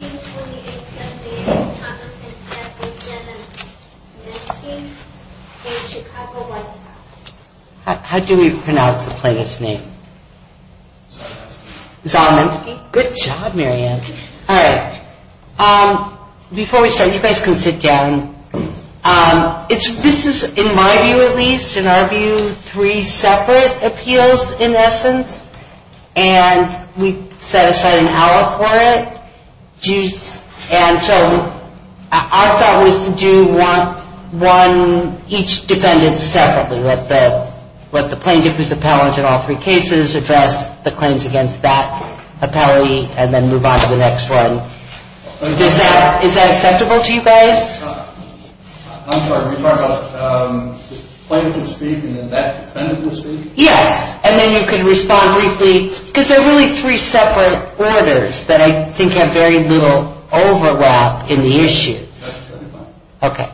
How do we pronounce the plaintiff's name? Zahumensky. Zahumensky, good job Mary Ann. Alright, before we start you guys can sit down, this is in my view at least, in our view three separate appeals in essence and we've set aside an hour for it. And so our thought was to do one, each defendant separately, let the plaintiff who is appellant in all three cases address the claims against that appellee and then move on to the next one. Is that acceptable to you guys? I'm sorry, were you talking about the plaintiff will speak and then that defendant will speak? Yes, and then you can respond briefly because they're really three separate orders that I think have very little overlap in the issues. Okay,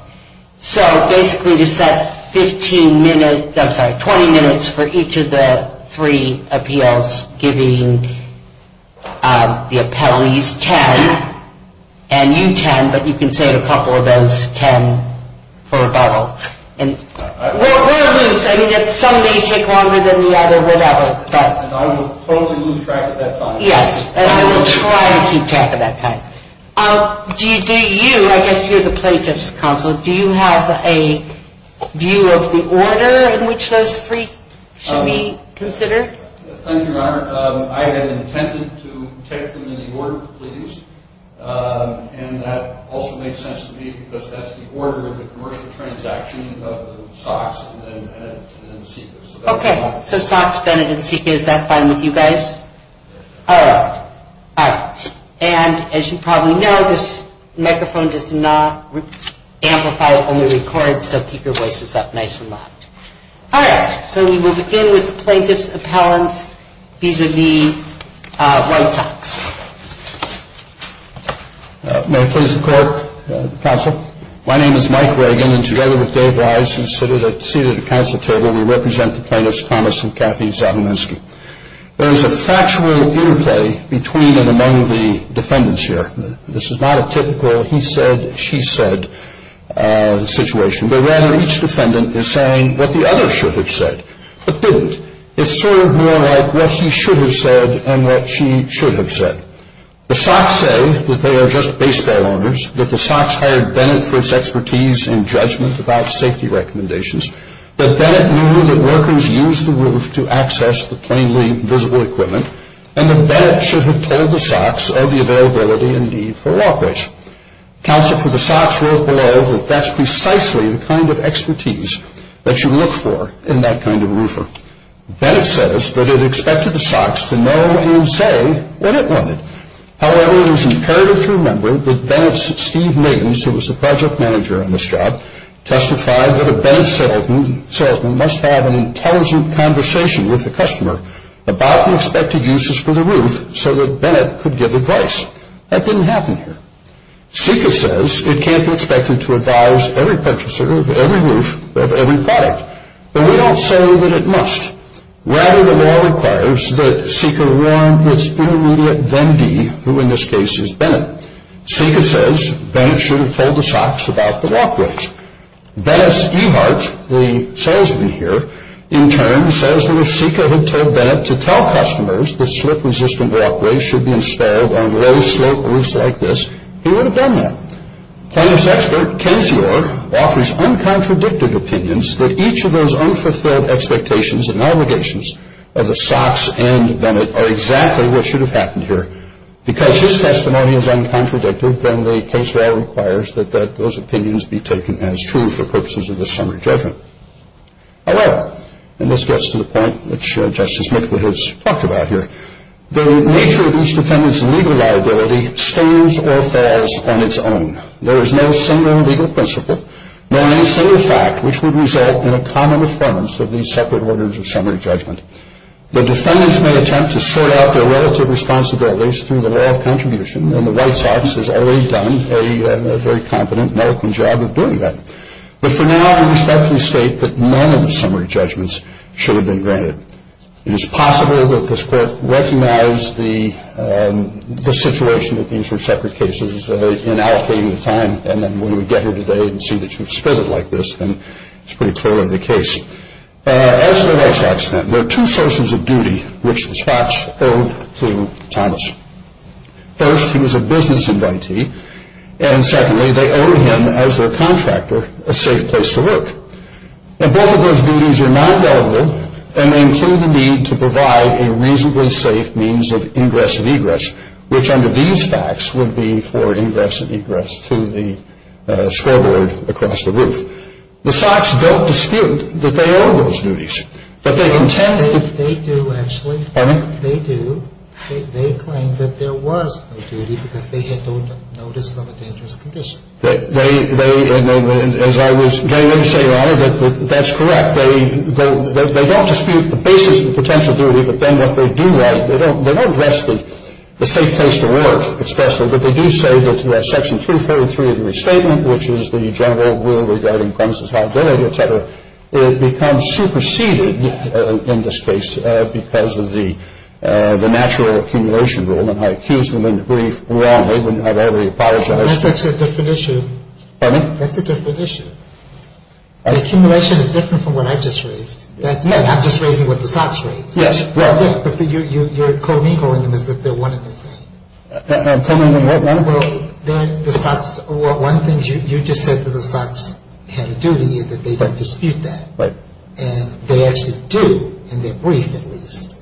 so basically to set 15 minutes, I'm sorry 20 minutes for each of the three appeals giving the appellees 10 and you 10 but you can save a couple of those 10 for rebuttal. We're loose, I mean some may take longer than the other whatever. I will totally lose track of that time. Yes, and I will try to keep track of that time. Do you, I guess you're the plaintiff's counsel, do you have a view of the order in which those three should be considered? Thank you, Your Honor. I have intended to take them in the order, please, and that also makes sense to me because that's the order of the commercial transaction of the Sox, Bennett, and Inseka. Okay, so Sox, Bennett, and Inseka, is that fine with you guys? Yes. All right, all right. And as you probably know, this microphone does not amplify or only record, so keep your voices up nice and loud. All right, so we will begin with the plaintiff's appellants vis-a-vis White Sox. May it please the court, counsel? My name is Mike Reagan, and together with Dave Wise, who is seated at the counsel table, we represent the plaintiffs, Thomas and Kathy Zahominski. There is a factual interplay between and among the defendants here. This is not a typical he said, she said situation, but rather each defendant is saying what the other should have said but didn't. It's sort of more like what he should have said and what she should have said. The Sox say that they are just baseball owners, that the Sox hired Bennett for its expertise in judgment about safety recommendations, that Bennett knew that workers used the roof to access the plainly visible equipment, and that Bennett should have told the Sox of the availability and need for walkways. Counsel for the Sox wrote below that that's precisely the kind of expertise that you look for in that kind of roofer. Bennett says that it expected the Sox to know and say what it wanted. However, it is imperative to remember that Bennett's Steve Niggins, who was the project manager on this job, testified that a Bennett settlement must have an intelligent conversation with the customer about the expected uses for the roof so that Bennett could give advice. That didn't happen here. Sika says it can't be expected to advise every purchaser of every roof of every product, but we don't say that it must. Rather, the law requires that Sika warrant its intermediate vendee, who in this case is Bennett. Sika says Bennett should have told the Sox about the walkways. Bennett's Ehart, the salesman here, in turn says that if Sika had told Bennett to tell customers that slip-resistant walkways should be installed on low slope roofs like this, he would have done that. Plaintiff's expert, Casey Orr, offers uncontradicted opinions that each of those unfulfilled expectations and obligations of the Sox and Bennett are exactly what should have happened here. Because his testimony is uncontradicted, then the case law requires that those opinions be taken as true for purposes of this summary judgment. However, and this gets to the point which Justice Mikla has talked about here, the nature of each defendant's legal liability stands or falls on its own. There is no single legal principle, nor any single fact, which would result in a common affirmance of these separate orders of summary judgment. The defendants may attempt to sort out their relative responsibilities through the law of contribution, and the White Sox has already done a very competent and eloquent job of doing that. But for now, I respectfully state that none of the summary judgments should have been granted. It is possible that this Court recognized the situation that these were separate cases in allocating the time, and then when we get here today and see that you've split it like this, then it's pretty clearly the case. As for the White Sox, then, there are two sources of duty which the Sox owed to Thomas. First, he was a business invitee, and secondly, they owed him, as their contractor, a safe place to work. Now, both of those duties are non-valuable, and they include the need to provide a reasonably safe means of ingress and egress, which under these facts would be for ingress and egress to the scoreboard across the roof. The Sox don't dispute that they owe those duties, but they contend that they do actually. Pardon me? They do. They claim that there was no duty because they had no notice of a dangerous condition. As I was saying earlier, that's correct. They don't dispute the basis of the potential duty, but then what they do write, they don't address the safe place to work especially, but they do say that Section 343 of the Restatement, which is the general rule regarding premises of liability, et cetera, becomes superseded in this case because of the natural accumulation rule, and I accuse them in the brief wrongly. I very much apologize. That's actually a different issue. Pardon me? That's a different issue. The accumulation is different from what I just raised. That's it. I'm just raising what the Sox raised. Yes. Well, yeah, but you're co-mingling them as if they're one and the same. I'm coming in what way? Well, they're the Sox. One of the things you just said to the Sox had a duty is that they don't dispute that. Right. And they actually do in their brief at least.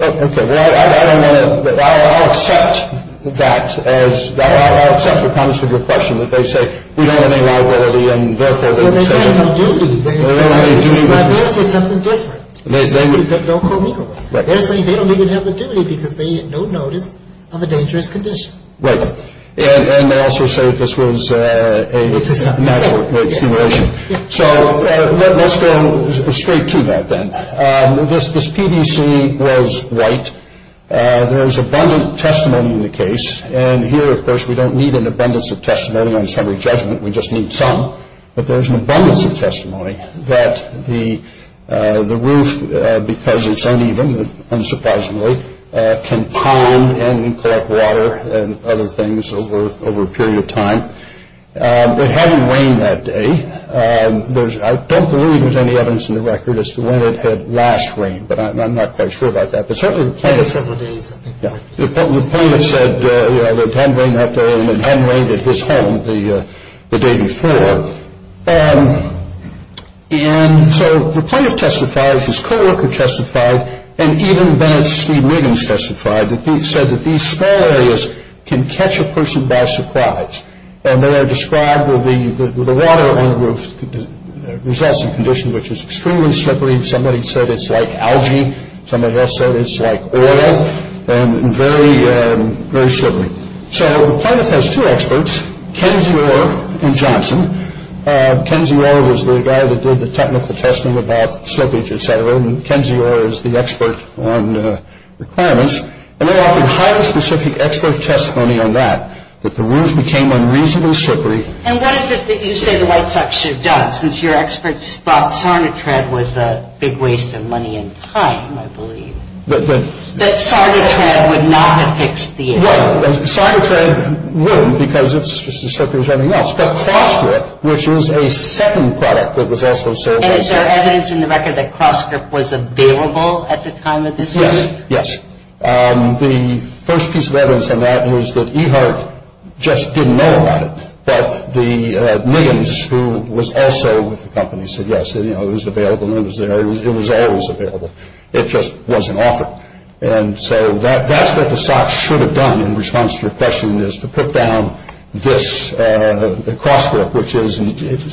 Okay. I'll accept that. I'll accept the promise of your question that they say we don't have any liability, and therefore they're the same. Well, they don't have a duty. Liability is something different. Don't co-mingle them. They're saying they don't even have a duty because they had no notice of a dangerous condition. Right. And they also say that this was a natural accumulation. So let's go straight to that then. This PVC was white. There is abundant testimony in the case. And here, of course, we don't need an abundance of testimony on summary judgment. We just need some. But there is an abundance of testimony that the roof, because it's uneven, unsurprisingly, can churn and collect water and other things over a period of time. It hadn't rained that day. I don't believe there's any evidence in the record as to when it had last rained, but I'm not quite sure about that. But certainly the plaintiff said it had rained that day and it hadn't rained at his home the day before. And so the plaintiff testified, his co-worker testified, and even Bennett's Steve Wiggins testified that he said that these small areas can catch a person by surprise. And they are described with the water on the roof results in conditions which is extremely slippery. Somebody said it's like algae. Somebody else said it's like oil and very slippery. So the plaintiff has two experts, Ken Zior and Johnson. Ken Zior was the guy that did the technical testing about slippage, et cetera, and Ken Zior is the expert on requirements. And they offered highly specific expert testimony on that, that the roof became unreasonably slippery. And what is it that you say the White Sox should have done, since your experts thought Sarnatrad was a big waste of money and time, I believe, that Sarnatrad would not have fixed the issue? Right. Sarnatrad wouldn't because it's just as slippery as anything else. But CrossGrip, which is a second product that was also a serious issue. And is there evidence in the record that CrossGrip was available at the time of this case? Yes, yes. The first piece of evidence on that is that EHART just didn't know about it. But the Niggins, who was also with the company, said, yes, it was available and it was there. It was always available. It just wasn't offered. And so that's what the Sox should have done in response to your question, is to put down this CrossGrip, which is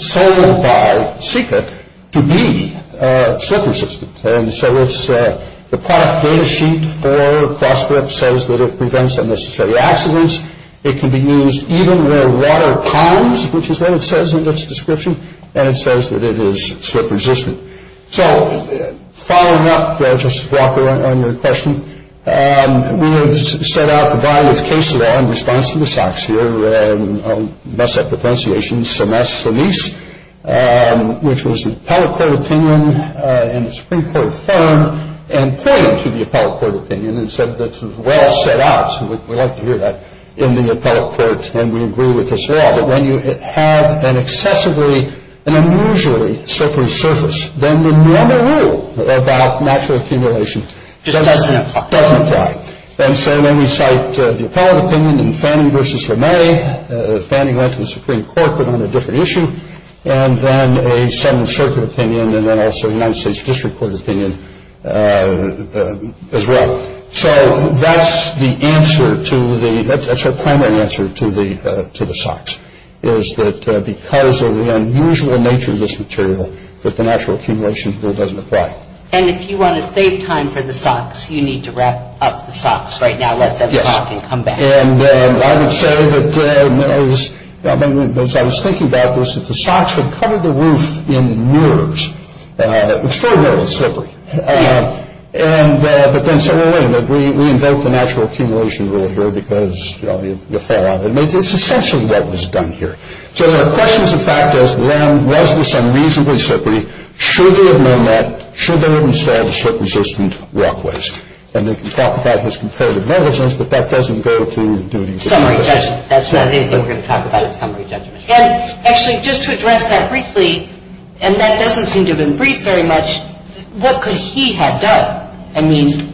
sold by Sika, to be slip resistant. And so the product data sheet for CrossGrip says that it prevents unnecessary accidents. It can be used even near water ponds, which is what it says in its description. And it says that it is slip resistant. So following up, Justice Walker, on your question, we have set out the violative case law in response to the Sox here. And I'll mess up the pronunciation, semes, semes, which was the appellate court opinion in the Supreme Court firm, and pointed to the appellate court opinion and said that it was well set out. And we like to hear that in the appellate court, and we agree with this law. But when you have an excessively and unusually slippery surface, then the normal rule about natural accumulation doesn't apply. And so then we cite the appellate opinion in Fanning v. LeMay. Fanning went to the Supreme Court, but on a different issue. And then a Seventh Circuit opinion, and then also a United States District Court opinion as well. So that's the answer to the – that's our primary answer to the Sox, is that because of the unusual nature of this material, that the natural accumulation rule doesn't apply. And if you want to save time for the Sox, you need to wrap up the Sox right now. Let them talk and come back. Yes. And I would say that, you know, as I was thinking about this, that the Sox had covered the roof in mirrors, extraordinarily slippery. Yes. And – but then said, well, wait a minute. We invoke the natural accumulation rule here because, you know, you'll fall out. It's essentially what was done here. So there are questions of fact as when was this unreasonably slippery. Should they have known that? Should they have installed slip-resistant walkways? And they can talk about this comparative negligence, but that doesn't go to duty. Summary judgment. That's the only thing we're going to talk about is summary judgment. And actually, just to address that briefly, and that doesn't seem to have been briefed very much, what could he have done? I mean,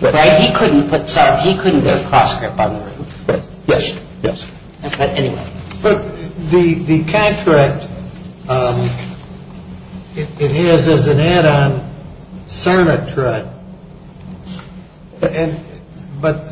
right? He couldn't put cross-grip on the roof. Yes. Yes. But anyway. But the contract, it is as an add-on Cernit tread, but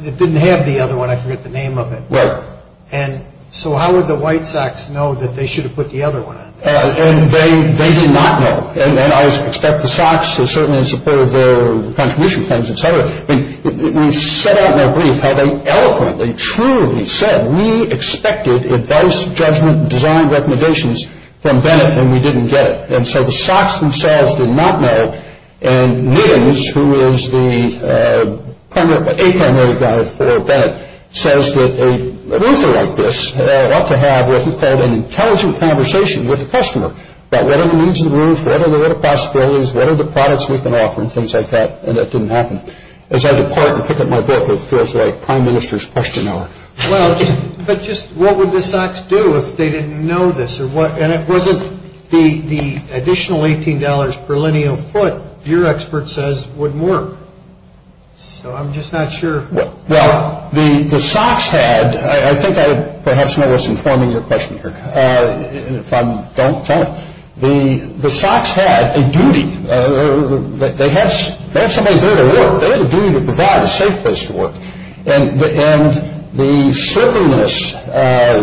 it didn't have the other one. I forget the name of it. Right. And so how would the White Sox know that they should have put the other one on? And they did not know. And I would expect the Sox, certainly in support of their contribution plans, et cetera. I mean, we set out in our brief how they eloquently, truly said, we expected advice, judgment, and design recommendations from Bennett, and we didn't get it. And so the Sox themselves did not know. And Nittings, who is the a-primary guy for Bennett, says that a roofer like this ought to have what he called an intelligent conversation with the customer about what are the needs of the roof, what are the little possibilities, what are the products we can offer, and things like that. And that didn't happen. As I depart and pick up my book, it feels like Prime Minister's Question Hour. Well, but just what would the Sox do if they didn't know this? And it wasn't the additional $18 per lineal foot your expert says would work. So I'm just not sure. Well, the Sox had, I think I perhaps know what's informing your question here. If I don't, tell me. The Sox had a duty. They had somebody there to work. They had a duty to provide a safe place to work. And the slipperness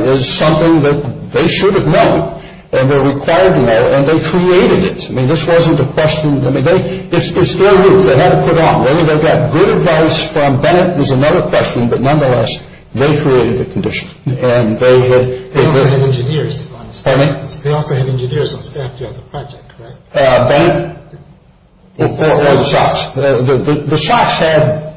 is something that they should have known and were required to know, and they created it. I mean, this wasn't a question. I mean, it's their roof. They had it put on. They got good advice from Bennett was another question. But nonetheless, they created the condition. They also had engineers on staff. Pardon me? They also had engineers on staff during the project, correct? Bennett? Or the Sox. The Sox had,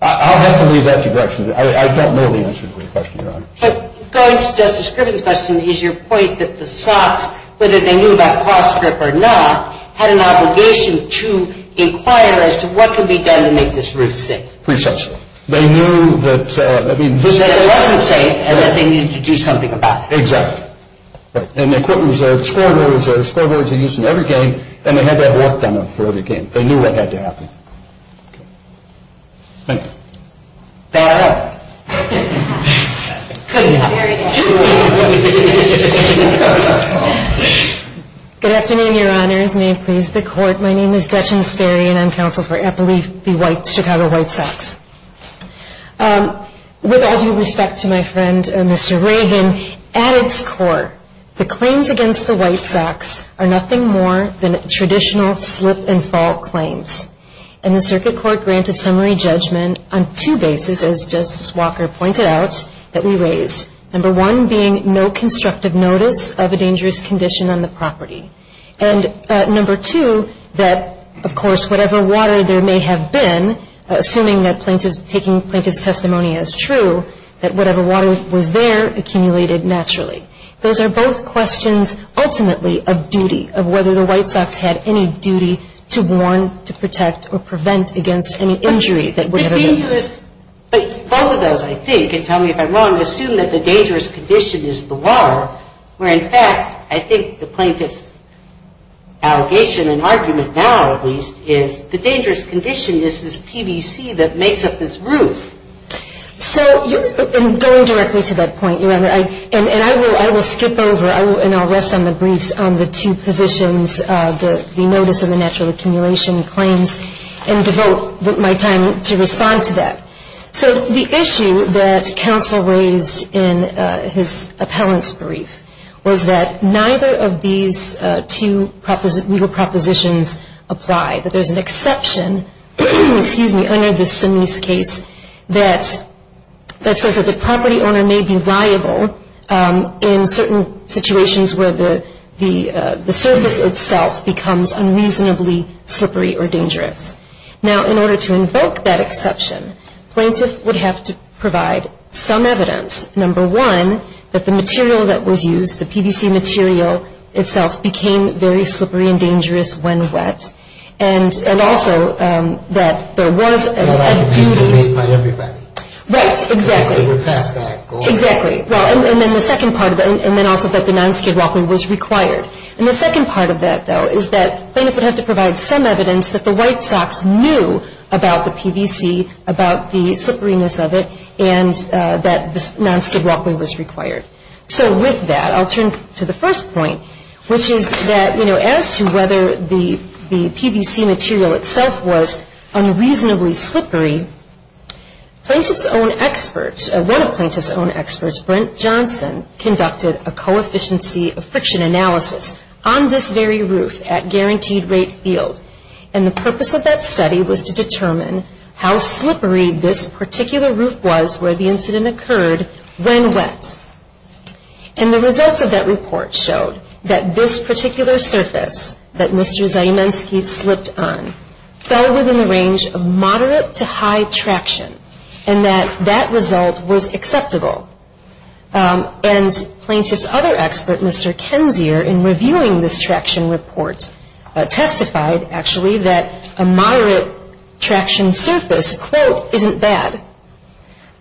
I'll have to leave that to direction. I don't know the answer to your question, Your Honor. Going to Justice Griffin's question, is your point that the Sox, whether they knew about cross-strip or not, had an obligation to inquire as to what could be done to make this roof safe? Precisely. They knew that, I mean, this was. That it wasn't safe and that they needed to do something about it. Exactly. And the equipment was there. The scoreboard was there. The scoreboard was used in every game. And they had that worked on them for every game. They knew what had to happen. Okay. Bennett? Bad luck. Good afternoon, Your Honors. May it please the Court. My name is Gretchen Sperry, and I'm counsel for Eppley v. White, Chicago White Sox. With all due respect to my friend, Mr. Reagan, at its core, the claims against the White Sox are nothing more than traditional slip-and-fall claims. And the Circuit Court granted summary judgment on two bases, as Justice Walker pointed out, that we raised. Number one being no constructive notice of a dangerous condition on the property. And number two, that, of course, whatever water there may have been, assuming that taking plaintiff's testimony as true, that whatever water was there accumulated naturally. Those are both questions, ultimately, of duty, of whether the White Sox had any duty to warn, to protect, or prevent against any injury that would have occurred. But both of those, I think, and tell me if I'm wrong, assume that the dangerous condition is the water, where, in fact, I think the plaintiff's allegation and argument now, at least, is the dangerous condition is this PVC that makes up this roof. So you're going directly to that point, Your Honor. And I will skip over and I'll rest on the briefs on the two positions, the notice and the natural accumulation claims, and devote my time to respond to that. So the issue that counsel raised in his appellant's brief was that both of these two legal propositions apply, that there's an exception, under this Sinise case, that says that the property owner may be liable in certain situations where the surface itself becomes unreasonably slippery or dangerous. Now, in order to invoke that exception, plaintiff would have to provide some evidence, number one, that the material that was used, the PVC material itself, became very slippery and dangerous when wet. And also, that there was a duty. It was made by everybody. Right, exactly. So we're past that. Exactly. And then the second part of it, and then also that the non-skid walking was required. And the second part of that, though, is that plaintiff would have to provide some evidence that the White Sox knew about the PVC, about the slipperiness of it, and that non-skid walking was required. So with that, I'll turn to the first point, which is that as to whether the PVC material itself was unreasonably slippery, plaintiff's own experts, one of plaintiff's own experts, Brent Johnson, conducted a coefficiency of friction analysis on this very roof at guaranteed rate field. And the purpose of that study was to determine how slippery this particular roof was where the incident occurred when wet. And the results of that report showed that this particular surface that Mr. Zieminski slipped on fell within the range of moderate to high traction, and that that result was acceptable. And plaintiff's other expert, Mr. Kensier, in reviewing this traction report testified, actually, that a moderate traction surface, quote, isn't bad,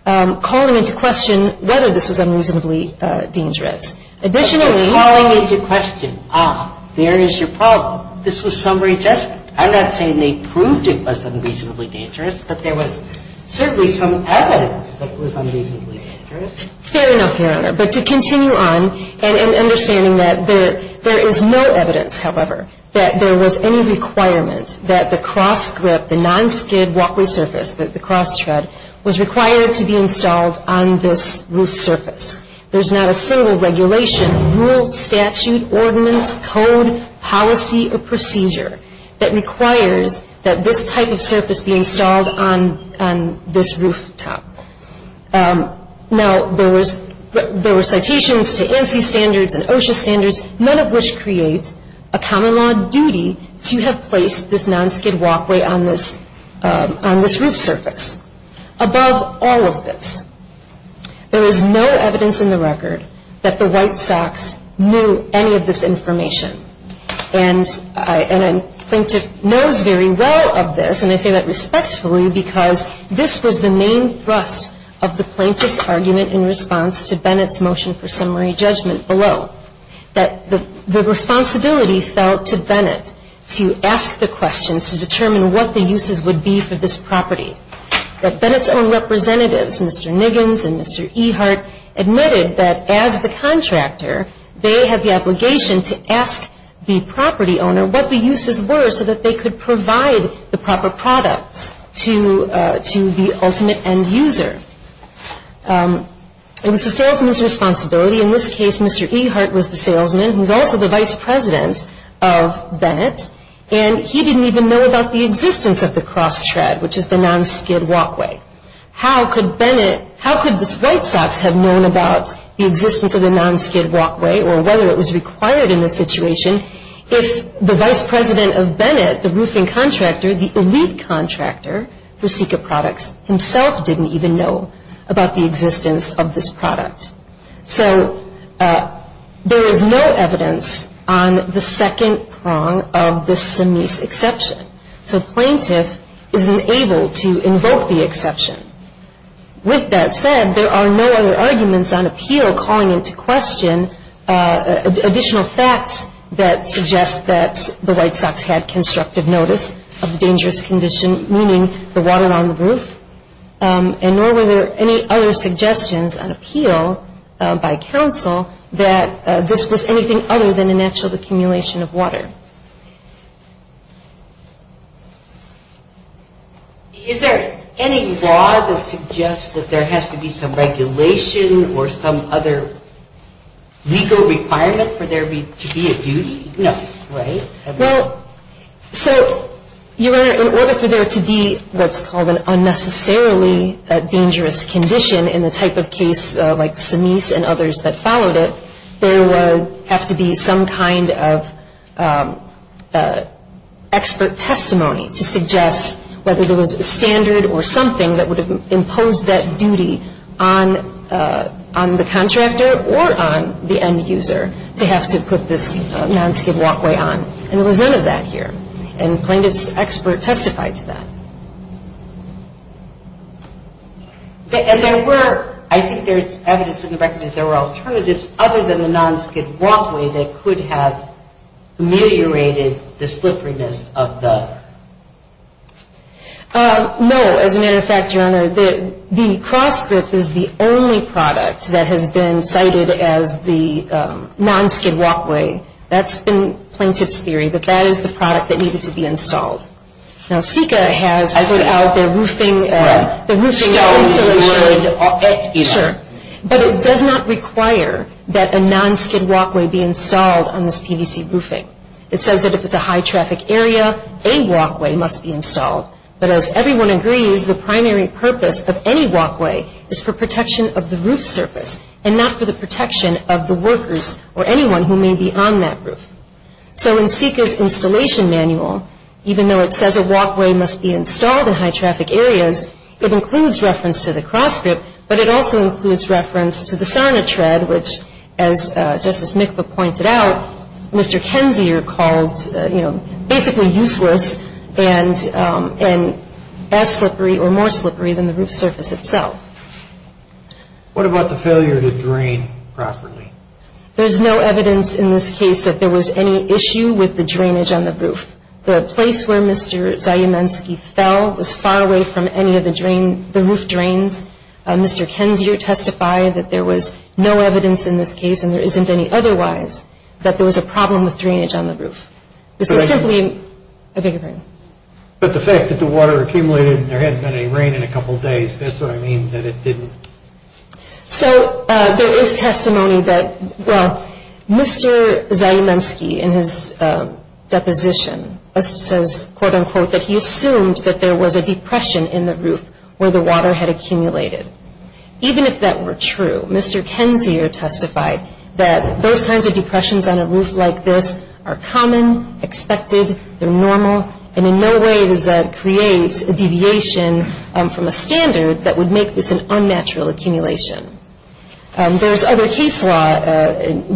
calling into question whether this was unreasonably dangerous. Additionally- But calling into question, ah, there is your problem. This was summary judgment. I'm not saying they proved it was unreasonably dangerous, but there was certainly some evidence that it was unreasonably dangerous. Fair enough, Your Honor. But to continue on, and understanding that there is no evidence, however, that there was any requirement that the cross grip, the non-skid walkway surface, the cross tread, was required to be installed on this roof surface. There's not a single regulation, rule, statute, ordinance, code, policy, or procedure that requires that this type of surface be installed on this rooftop. Now, there were citations to ANSI standards and OSHA standards, none of which create a common law duty to have placed this non-skid walkway on this roof surface. Above all of this, there is no evidence in the record that the White Sox knew any of this information. And I think the plaintiff knows very well of this, and I say that respectfully because this was the main thrust of the plaintiff's argument in response to Bennett's motion for summary judgment below. That the responsibility fell to Bennett to ask the questions to determine what the uses would be for this property. That Bennett's own representatives, Mr. Niggins and Mr. Ehart, admitted that as the contractor, they had the obligation to ask the property owner what the uses were so that they could provide the proper products to the ultimate end user. It was the salesman's responsibility. In this case, Mr. Ehart was the salesman, who was also the vice president of Bennett, and he didn't even know about the existence of the cross tread, which is the non-skid walkway. How could this White Sox have known about the existence of the non-skid walkway or whether it was required in this situation if the vice president of Bennett, the roofing contractor, the elite contractor for Sika Products, himself didn't even know about the existence of this product. So there is no evidence on the second prong of this semis exception. So plaintiff is unable to invoke the exception. With that said, there are no other arguments on appeal calling into question additional facts that suggest that the White Sox had constructive notice of the dangerous condition, meaning the water on the roof, and nor were there any other suggestions on appeal by counsel that this was anything other than a natural accumulation of water. Is there any law that suggests that there has to be some regulation or some other legal requirement for there to be a duty? No. Right? Well, so in order for there to be what's called an unnecessarily dangerous condition in the type of case like Semis and others that followed it, there would have to be some kind of expert testimony to suggest whether there was a standard or something that would have imposed that duty on the contractor or on the end user to have to put this non-skid walkway on. And there was none of that here. And plaintiff's expert testified to that. And there were, I think there's evidence in the record that there were alternatives other than the non-skid walkway that could have ameliorated the slipperiness of the... No. As a matter of fact, Your Honor, the CrossGrip is the only product that has been cited as the non-skid walkway. That's been plaintiff's theory, that that is the product that needed to be installed. Now, SICA has put out their roofing... Well, stones would affect either. Sure. But it does not require that a non-skid walkway be installed on this PVC roofing. It says that if it's a high-traffic area, a walkway must be installed. But as everyone agrees, the primary purpose of any walkway is for protection of the roof surface and not for the protection of the workers or anyone who may be on that roof. So in SICA's installation manual, even though it says a walkway must be installed in high-traffic areas, it includes reference to the CrossGrip, but it also includes reference to the Sonitred, which, as Justice Mikva pointed out, Mr. Kensier called, you know, basically useless and as slippery or more slippery than the roof surface itself. What about the failure to drain properly? There's no evidence in this case that there was any issue with the drainage on the roof. The place where Mr. Zajiminski fell was far away from any of the roof drains. Mr. Kensier testified that there was no evidence in this case, and there isn't any otherwise, that there was a problem with drainage on the roof. This is simply a bigger problem. But the fact that the water accumulated and there hadn't been any rain in a couple of days, that's what I mean that it didn't. So there is testimony that, well, Mr. Zajiminski, in his deposition, says, quote, unquote, that he assumed that there was a depression in the roof where the water had accumulated. Even if that were true, Mr. Kensier testified that those kinds of depressions on a roof like this are common, expected, they're normal, and in no way does that create a deviation from a standard that would make this an unnatural accumulation. There's other case law,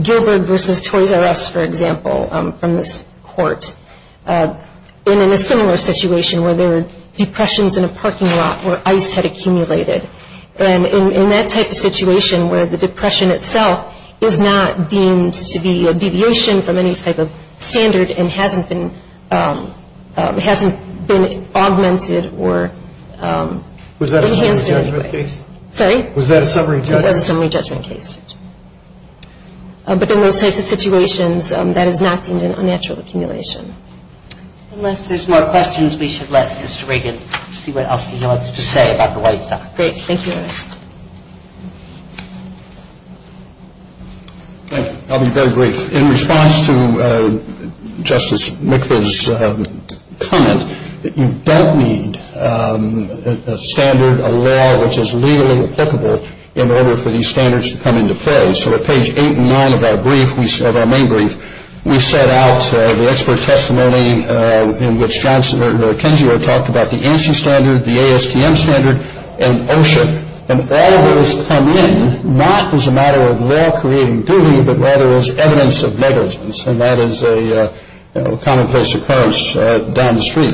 Gilbert v. Toys R Us, for example, from this court, and in a similar situation where there were depressions in a parking lot where ice had accumulated. And in that type of situation where the depression itself is not deemed to be a deviation from any type of standard and hasn't been augmented or enhanced in any way. Was that a summary judgment case? Sorry? Was that a summary judgment case? That was a summary judgment case. But in those types of situations, that is not deemed an unnatural accumulation. Unless there's more questions, we should let Mr. Reagan see what else he wants to say about the White Sox. Great. Thank you. Thank you. I'll be very brief. In response to Justice McVeigh's comment that you don't need a standard, a law, which is legally applicable in order for these standards to come into play. So at page 8 and 9 of our brief, of our main brief, we set out the expert testimony in which Johnson and McKenzie talked about the ANSI standard, the ASTM standard, and OSHA. And all of those come in not as a matter of law creating duty, but rather as evidence of negligence. And that is a commonplace occurrence down the street.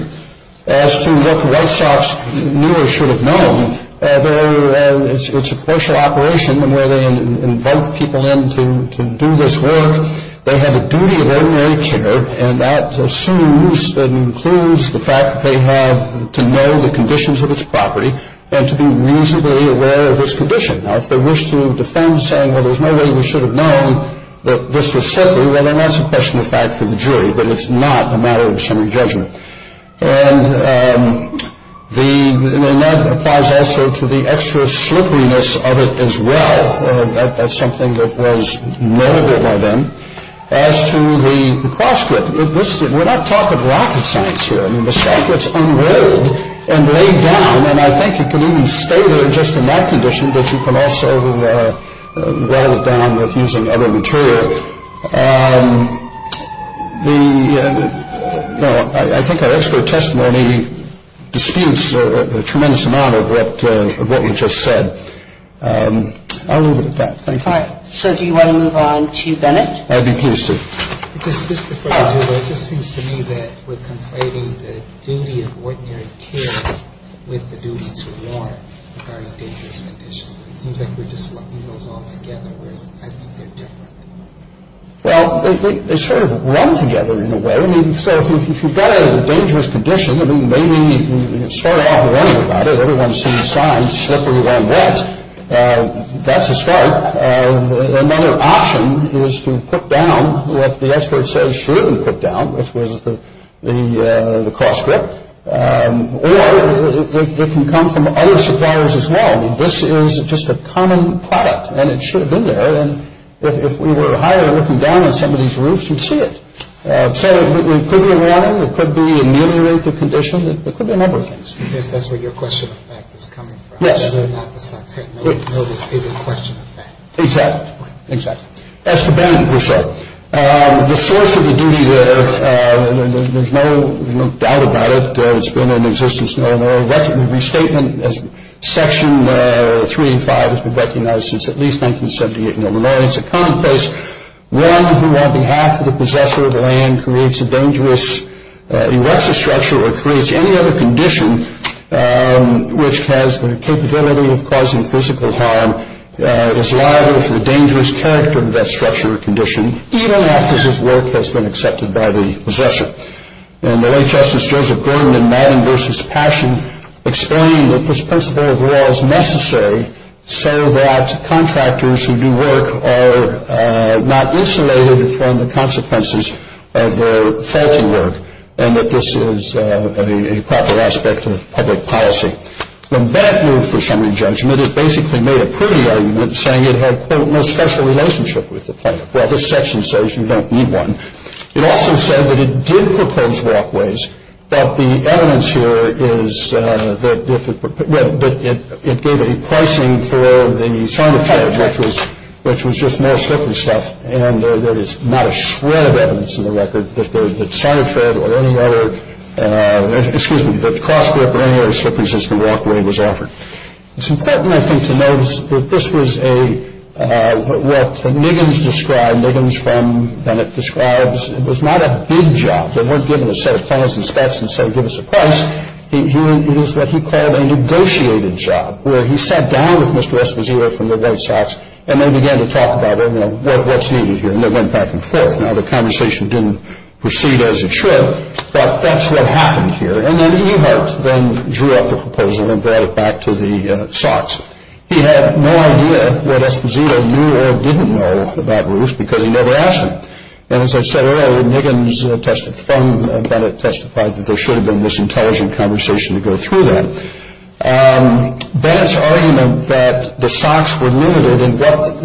As to what the White Sox knew or should have known, it's a commercial operation where they invite people in to do this work. They have a duty of ordinary care. And that assumes and includes the fact that they have to know the conditions of its property and to be reasonably aware of its condition. Now, if they wish to defend saying, well, there's no way we should have known that this was slippery, well, then that's a question of fact for the jury. But it's not a matter of summary judgment. And that applies also to the extra slipperiness of it as well. That's something that was noted by them. As to the cross-grip, we're not talking rocket science here. I mean, the shot gets unrolled and laid down, and I think it can even stay there just in that condition, but you can also roll it down with using other material. I think our expert testimony disputes a tremendous amount of what you just said. I'll leave it at that. Thank you. All right. So do you want to move on to Bennett? I'd be pleased to. Just before I do that, it just seems to me that we're conflating the duty of ordinary care with the duty to warn regarding dangerous conditions. It seems like we're just lumping those all together, whereas I think they're different. Well, they sort of run together in a way. I mean, so if you've got a dangerous condition, I mean, maybe you start off worrying about it. Everyone sees signs, slippery, long, wet. That's a start. Another option is to put down what the expert says shouldn't be put down, which was the cross-grip. Or it can come from other suppliers as well. I mean, this is just a common product, and it should have been there. And if we were hired looking down on somebody's roofs, you'd see it. So it could be a warning. It could be ameliorate the condition. It could be a number of things. Yes, that's where your question of fact is coming from. Yes. Not the subject. No, this is a question of fact. Exactly. Okay. Exactly. As to bank, we'll say. The source of the duty there, there's no doubt about it. It's been in existence in Illinois. The restatement as Section 3 and 5 has been recognized since at least 1978 in Illinois. It's a commonplace. One who, on behalf of the possessor of the land, creates a dangerous erectus structure or creates any other condition which has the capability of causing physical harm is liable for the dangerous character of that structure or condition, even after his work has been accepted by the possessor. And the late Justice Joseph Gordon in Madden v. Passion explained that this principle of law is necessary so that contractors who do work are not insulated from the consequences of their faulty work and that this is a proper aspect of public policy. When that moved for summary judgment, it basically made a pretty argument saying it had, quote, no special relationship with the planet. Well, this section says you don't need one. It also said that it did propose walkways, but the evidence here is that if it, but it gave a pricing for the Sinotrad, which was just more slippery stuff, and there is not a shred of evidence in the record that Sinotrad or any other, excuse me, that CrossCorp or any other slippery system walkway was offered. It's important, I think, to notice that this was a, what Niggins described, Niggins from Bennett describes, it was not a big job. They weren't giving a set of plans and stats and saying give us a price. It was what he called a negotiated job, where he sat down with Mr. Esposito from the White Sox and they began to talk about, you know, what's needed here. And they went back and forth. Now, the conversation didn't proceed as it should, but that's what happened here. And then Ehart then drew up the proposal and brought it back to the Sox. He had no idea what Esposito knew or didn't know about roofs because he never asked him. And as I said earlier, Niggins testified, from Bennett testified that there should have been this intelligent conversation to go through that. Bennett's argument that the Sox were limited in what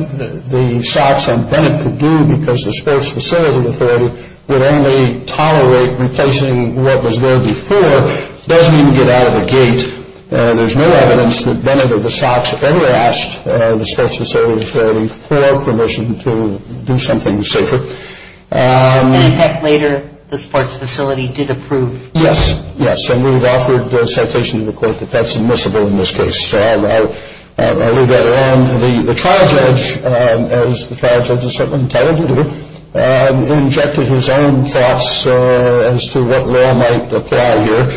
the Sox and Bennett could do because the sports facility authority would only tolerate replacing what was there before doesn't even get out of the gate. There's no evidence that Bennett or the Sox ever asked the sports facility authority for permission to do something safer. And in fact, later, the sports facility did approve. Yes, yes. And we've offered a citation to the court that that's admissible in this case. I'll leave that alone. The trial judge, as the trial judge has certainly intended to do, injected his own thoughts as to what law might apply here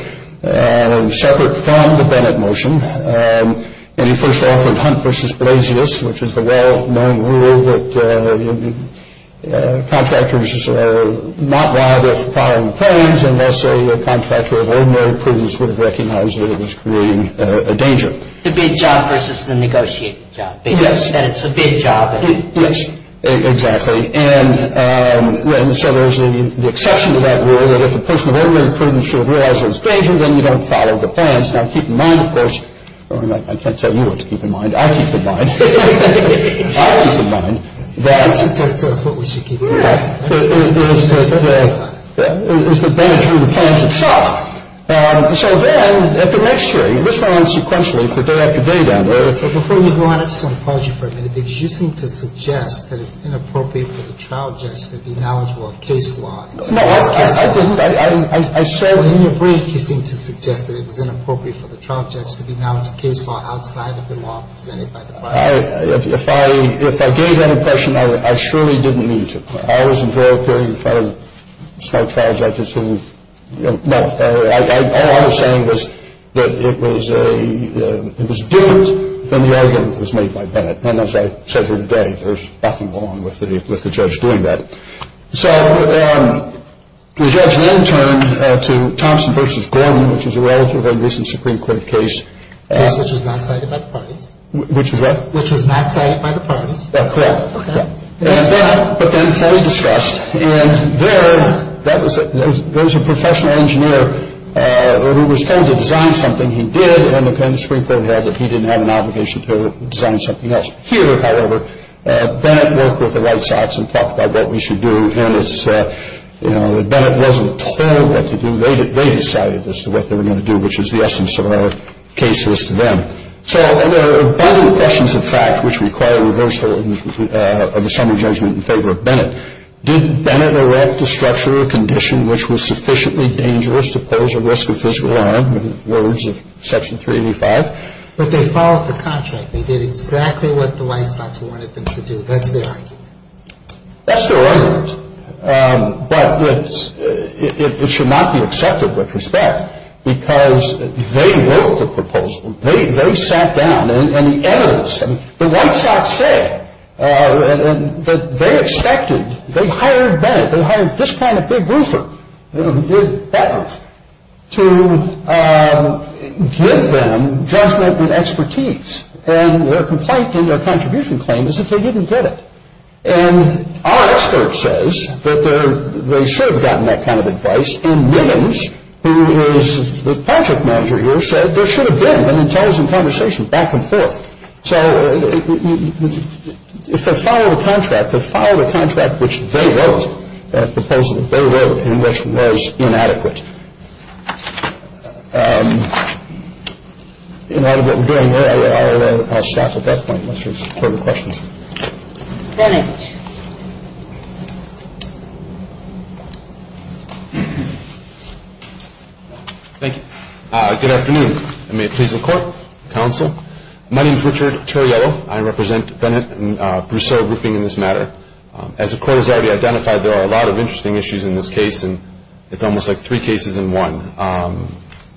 separate from the Bennett motion. And he first offered Hunt v. Blasius, which is the well-known rule that contractors are not liable for filing claims unless a contractor of ordinary prudence would recognize that it was creating a danger. The bid job versus the negotiated job. Yes. Because then it's a bid job. Yes, exactly. And so there's the exception to that rule that if a person of ordinary prudence should have realized it was a danger, then you don't file the claims. Now, keep in mind, of course, I can't tell you what to keep in mind. I'll keep in mind. I'll keep in mind that. Why don't you just tell us what we should keep in mind? Yeah. It was the benefit of the plans itself. So then at the next hearing, this went on sequentially for day after day down there. Before you go on, I just want to pause you for a minute because you seem to suggest that it's inappropriate for the trial judge to be knowledgeable of case law. No, I didn't. I said. In your brief, you seem to suggest that it was inappropriate for the trial judge to be knowledgeable of case law outside of the law presented by the process. If I gave that impression, I surely didn't mean to. I always enjoyed hearing the fellow small trial judges who, you know, all I was saying was that it was different than the argument that was made by Bennett. And as I said here today, there's nothing wrong with the judge doing that. So the judge then turned to Thompson v. Gordon, which is a relatively recent Supreme Court case. A case which was not cited by the parties. Which was what? Which was not cited by the parties. Correct. Okay. But then fully discussed. And there, there was a professional engineer who was trying to design something. He did, and the Supreme Court had that he didn't have an obligation to design something else. Here, however, Bennett worked with the right sides and talked about what we should do. And it's, you know, Bennett wasn't told what to do. They decided as to what they were going to do, which is the essence of our case is to them. So there are important questions of fact which require reversal of the summary judgment in favor of Bennett. Did Bennett erect a structure or condition which was sufficiently dangerous to pose a risk of physical harm, in the words of Section 385? But they followed the contract. They did exactly what the right sides wanted them to do. That's their argument. That's their argument. But it should not be accepted with respect because they wrote the proposal. They sat down and the evidence, the right sides said that they expected, they hired Bennett, they hired this kind of big roofer, big batman, to give them judgment and expertise. And their complaint and their contribution claim is that they didn't get it. And our expert says that they should have gotten that kind of advice, and Millens, who is the project manager here, said there should have been an intelligent conversation back and forth. So if they followed a contract, they followed a contract which they wrote, a proposal they wrote in which was inadequate. In light of what we're doing here, I'll stop at that point unless there's further questions. Bennett. Thank you. Good afternoon. May it please the Court, Counsel. My name is Richard Terriello. I represent Bennett and Brousseau Roofing in this matter. As the Court has already identified, there are a lot of interesting issues in this case, and it's almost like three cases in one.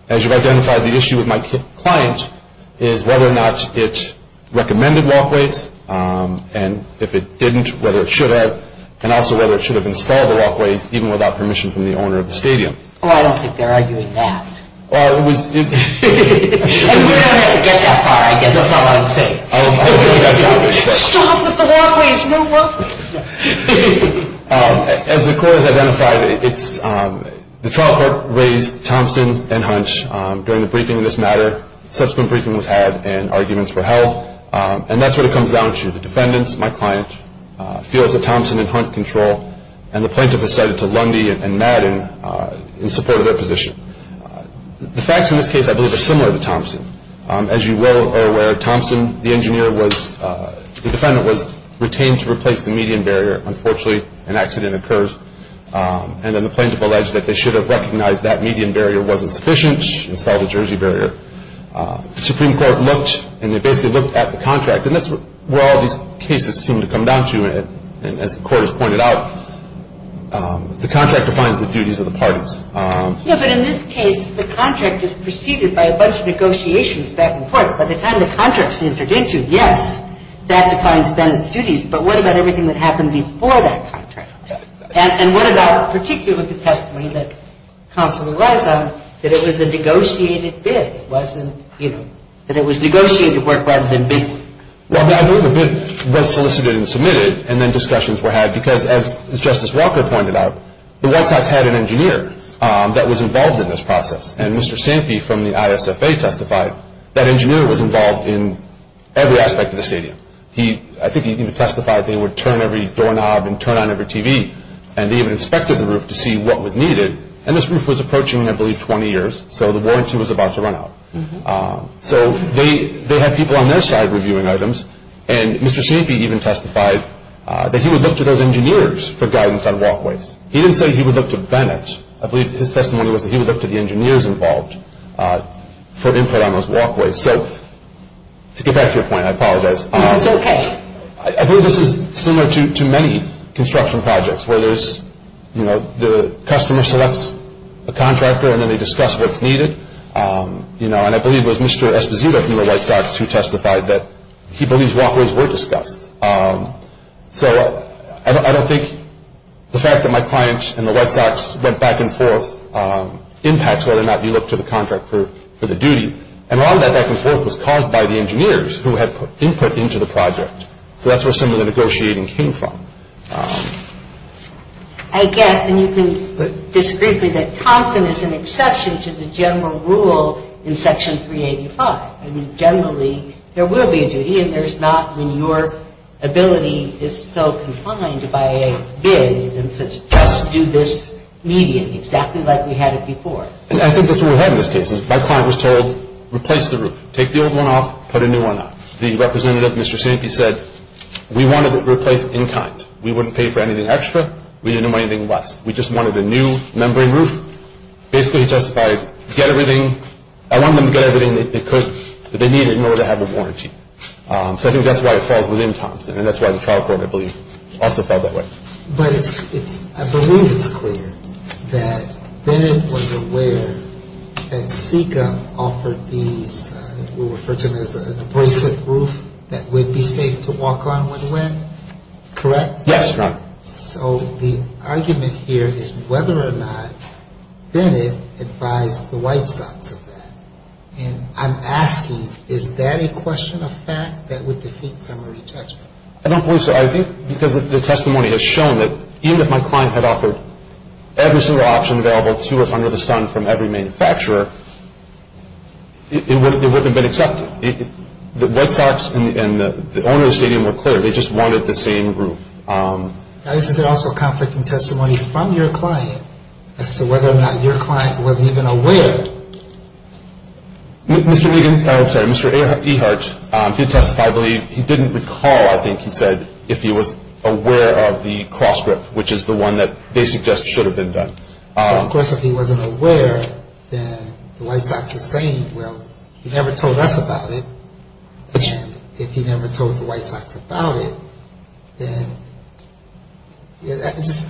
As you've identified, the issue with my client is whether or not it recommended walkways, and if it didn't, whether it should have, and also whether it should have installed the walkways even without permission from the owner of the stadium. Oh, I don't think they're arguing that. And we don't have to get that far, I guess. That's not what I'm saying. Stop with the walkways. No walkways. As the Court has identified, the trial court raised Thompson and Hunt during the briefing in this matter. Subsequent briefing was had and arguments were held, and that's what it comes down to. The defendants, my client, feels that Thompson and Hunt control, and the plaintiff has cited to Lundy and Madden in support of their position. The facts in this case, I believe, are similar to Thompson. As you well are aware, Thompson, the engineer was, the defendant was retained to replace the median barrier. Unfortunately, an accident occurs, and then the plaintiff alleged that they should have recognized that median barrier wasn't sufficient, installed a jersey barrier. The Supreme Court looked, and they basically looked at the contract, and that's where all these cases seem to come down to. And as the Court has pointed out, the contract defines the duties of the parties. Yeah, but in this case, the contract is preceded by a bunch of negotiations back and forth. By the time the contract's entered into, yes, that defines defendant's duties. But what about everything that happened before that contract? And what about particularly the testimony that counsel relies on, that it was a negotiated bid? It wasn't, you know, that it was negotiated work rather than bid work. Well, I believe a bid was solicited and submitted, and then discussions were had because, as Justice Walker pointed out, the White Sox had an engineer that was involved in this process, and Mr. Sampe from the ISFA testified that engineer was involved in every aspect of the stadium. He, I think he even testified they would turn every doorknob and turn on every TV, and they even inspected the roof to see what was needed. And this roof was approaching, I believe, 20 years, so the warranty was about to run out. So they had people on their side reviewing items, and Mr. Sampe even testified that he would look to those engineers for guidance on walkways. He didn't say he would look to Bennett. I believe his testimony was that he would look to the engineers involved for input on those walkways. So to get back to your point, I apologize. It's okay. I believe this is similar to many construction projects where there's, you know, the customer selects a contractor, and then they discuss what's needed, you know, and I believe it was Mr. Esposito from the White Sox who testified that he believes walkways were discussed. So I don't think the fact that my client and the White Sox went back and forth impacts whether or not you look to the contractor for the duty, and a lot of that back and forth was caused by the engineers who had input into the project. So that's where some of the negotiating came from. I guess, and you can disagree with me, that Thompson is an exception to the general rule in Section 385. I mean, generally, there will be a duty, and there's not when your ability is so confined by a bid and says just do this immediately, exactly like we had it before. I think that's what we had in this case. My client was told, replace the roof. Take the old one off, put a new one on. The representative, Mr. Sampe, said, we wanted it replaced in kind. We wouldn't pay for anything extra. We didn't know what anything was. We just wanted a new membrane roof. Basically, he testified, get everything. I want them to get everything that they could. If they need it, know that I have the warranty. So I think that's why it falls within Thompson, and that's why the trial court, I believe, also fell that way. But it's – I believe it's clear that Bennett was aware that SECA offered these – Correct? Yes, Your Honor. So the argument here is whether or not Bennett advised the White Sox of that. And I'm asking, is that a question of fact that would defeat summary judgment? I don't believe so. I think because the testimony has shown that even if my client had offered every single option available to us under the sun from every manufacturer, it wouldn't have been accepted. The White Sox and the owner of the stadium were clear. They just wanted the same roof. Now, isn't there also conflicting testimony from your client as to whether or not your client was even aware? Mr. Egan – oh, I'm sorry, Mr. Ehart, he testified that he didn't recall, I think he said, if he was aware of the cross grip, which is the one that they suggest should have been done. So, of course, if he wasn't aware, then the White Sox is saying, well, he never told us about it. And if he never told the White Sox about it, then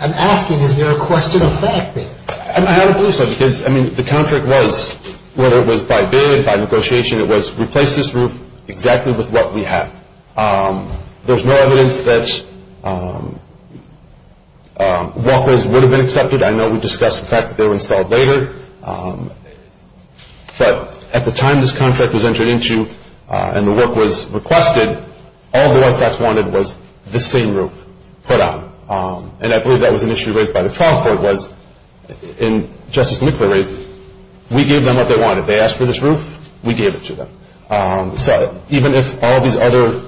I'm asking, is there a question of fact there? I don't believe so because, I mean, the contract was, whether it was by bid, by negotiation, it was replace this roof exactly with what we have. There's no evidence that walkways would have been accepted. I know we discussed the fact that they were installed later. But at the time this contract was entered into and the work was requested, all the White Sox wanted was the same roof put on. And I believe that was an issue raised by the trial court was, in Justice McClure's case, we gave them what they wanted. They asked for this roof, we gave it to them. So even if all these other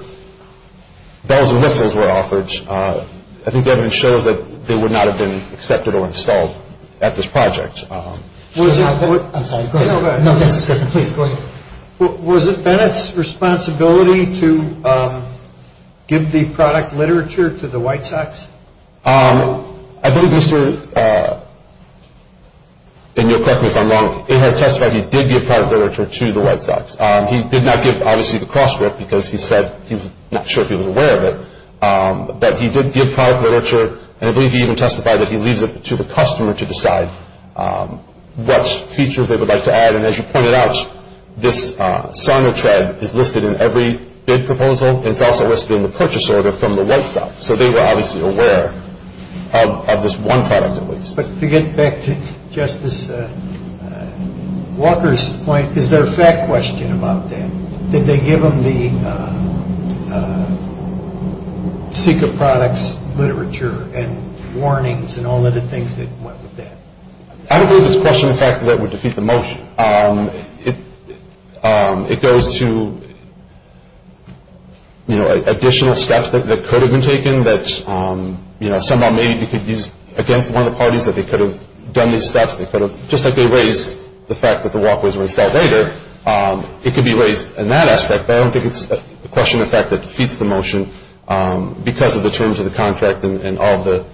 bells and whistles were offered, I think the evidence shows that they would not have been accepted or installed at this project. I'm sorry, go ahead. Was it Bennett's responsibility to give the product literature to the White Sox? I believe Mr., and you'll correct me if I'm wrong, it had testified he did give product literature to the White Sox. He did not give, obviously, the cross grip because he said he was not sure if he was aware of it. But he did give product literature, and I believe he even testified that he leaves it to the customer to decide what features they would like to add. And as you pointed out, this sign of tread is listed in every bid proposal. It's also listed in the purchase order from the White Sox. But to get back to Justice Walker's point, is there a fact question about that? Did they give them the SICA products, literature, and warnings, and all of the things that went with that? I don't believe it's a question of the fact that it would defeat the motion. It goes to additional steps that could have been taken, that somehow maybe we could use against one of the parties that they could have done these steps. Just like they raised the fact that the walkways were installed later, it could be raised in that aspect. But I don't think it's a question of the fact that it defeats the motion because of the terms of the contract and all of the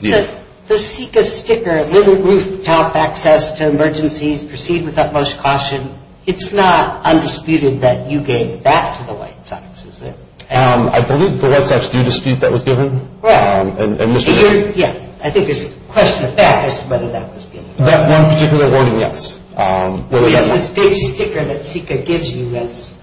deal. The SICA sticker, little roof top access to emergencies, proceed with utmost caution, it's not undisputed that you gave that to the White Sox, is it? I believe the White Sox do dispute that was given. Yes, I think it's a question of fact as to whether that was given. That one particular warning, yes. It's this big sticker that SICA gives you as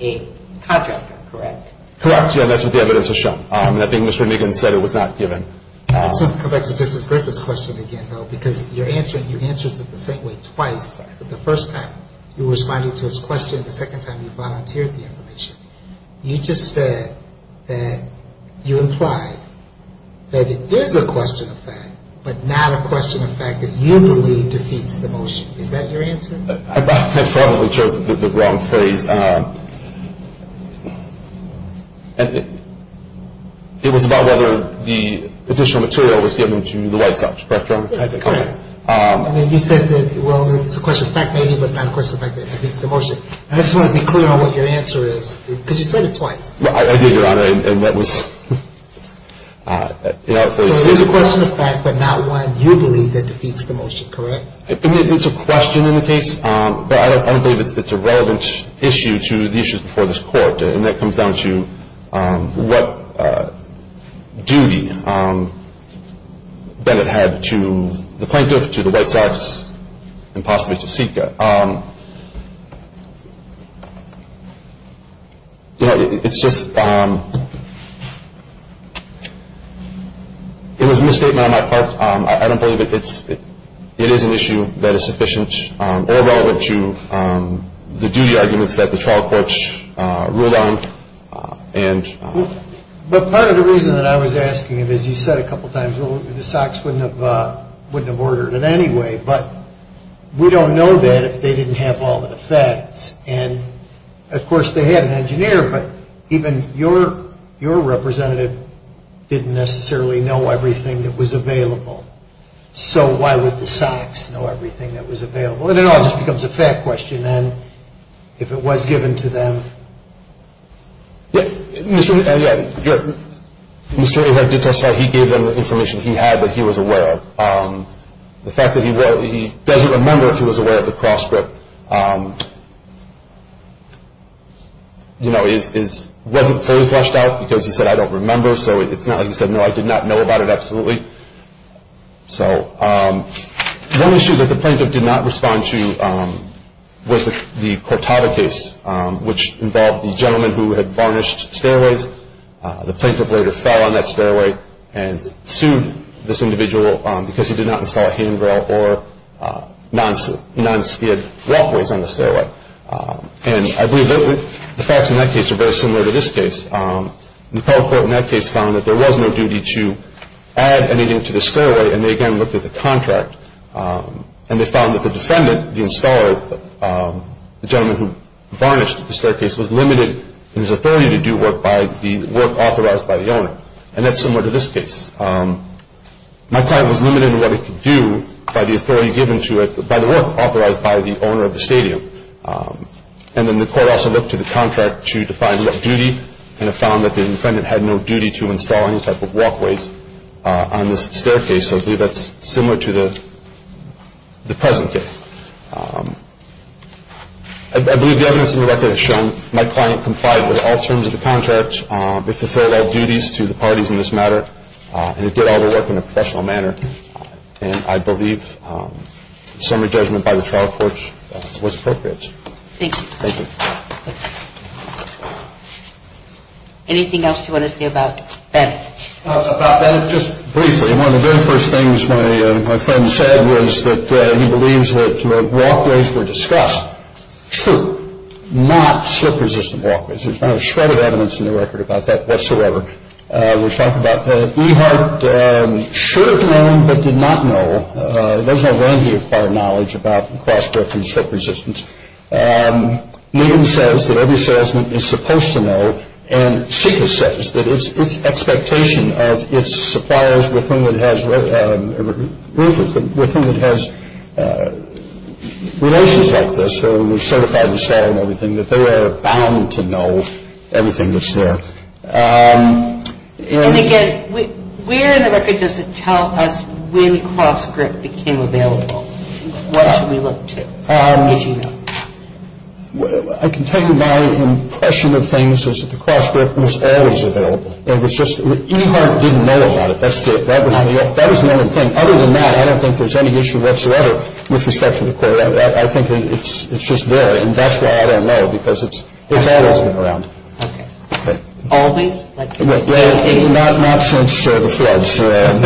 a contractor, correct? Correct, yes, that's what the evidence has shown. I think Mr. Niggins said it was not given. Let's come back to Justice Griffith's question again, though, because you answered it the same way twice. The first time you responded to his question, the second time you volunteered the information. You just said that you implied that it is a question of fact, but not a question of fact that you believe defeats the motion. Is that your answer? I probably chose the wrong phrase. It was about whether the additional material was given to the White Sox, correct, Your Honor? I think so. I mean, you said that, well, it's a question of fact maybe, but not a question of fact that defeats the motion. I just want to be clear on what your answer is, because you said it twice. Well, I did, Your Honor, and that was – So it is a question of fact, but not one you believe that defeats the motion, correct? It's a question in the case, but I don't believe it's a relevant issue to the issues before this Court, and that comes down to what duty Bennett had to the plaintiff, to the White Sox, and possibly to SICA. You know, it's just – it was a misstatement on my part. I don't believe it is an issue that is sufficient or relevant to the duty arguments that the trial courts ruled on. But part of the reason that I was asking it is you said a couple times, the Sox wouldn't have ordered it anyway, but we don't know that if they didn't have all the facts. And, of course, they had an engineer, but even your representative didn't necessarily know everything that was available. So why would the Sox know everything that was available? And it all just becomes a fact question, and if it was given to them – Mr. Ahead did testify. He gave them the information he had that he was aware of. The fact that he doesn't remember if he was aware of the cross script, you know, wasn't fully fleshed out because he said, I don't remember. So it's not like he said, no, I did not know about it absolutely. So one issue that the plaintiff did not respond to was the Cortada case, which involved the gentleman who had varnished stairways. The plaintiff later fell on that stairway and sued this individual because he did not install a handrail or non-skid walkways on the stairway. And I believe the facts in that case are very similar to this case. The federal court in that case found that there was no duty to add anything to the stairway, and they again looked at the contract. And they found that the defendant, the installer, the gentleman who varnished the staircase, was limited in his authority to do work authorized by the owner. And that's similar to this case. My client was limited in what he could do by the work authorized by the owner of the stadium. And then the court also looked to the contract to define what duty, and it found that the defendant had no duty to install any type of walkways on this staircase. So I believe that's similar to the present case. I believe the evidence in the record has shown my client complied with all terms of the contract. It fulfilled all duties to the parties in this matter, and it did all the work in a professional manner. And I believe summary judgment by the trial court was appropriate. Thank you. Thank you. Anything else you want to say about Bennett? About Bennett, just briefly. One of the very first things my friend said was that he believes that walkways were discussed. True, not slip-resistant walkways. There's not a shred of evidence in the record about that whatsoever. We've talked about that. Ehart should have known but did not know. There's no way he acquired knowledge about cross-brick and slip resistance. Newton says that every salesman is supposed to know, and Seekers says that it's expectation of its suppliers with whom it has relations like this, so we've certified the seller and everything, that they are bound to know everything that's there. And again, where in the record does it tell us when cross-brick became available? What should we look to, if you know? I can tell you my impression of things is that the cross-brick was always available, and it's just Ehart didn't know about it. That was the only thing. Other than that, I don't think there's any issue whatsoever with respect to the corridor. I think it's just there, and that's why I don't know, because it's always been around. Okay. Always? Not since the floods. Thanks for that.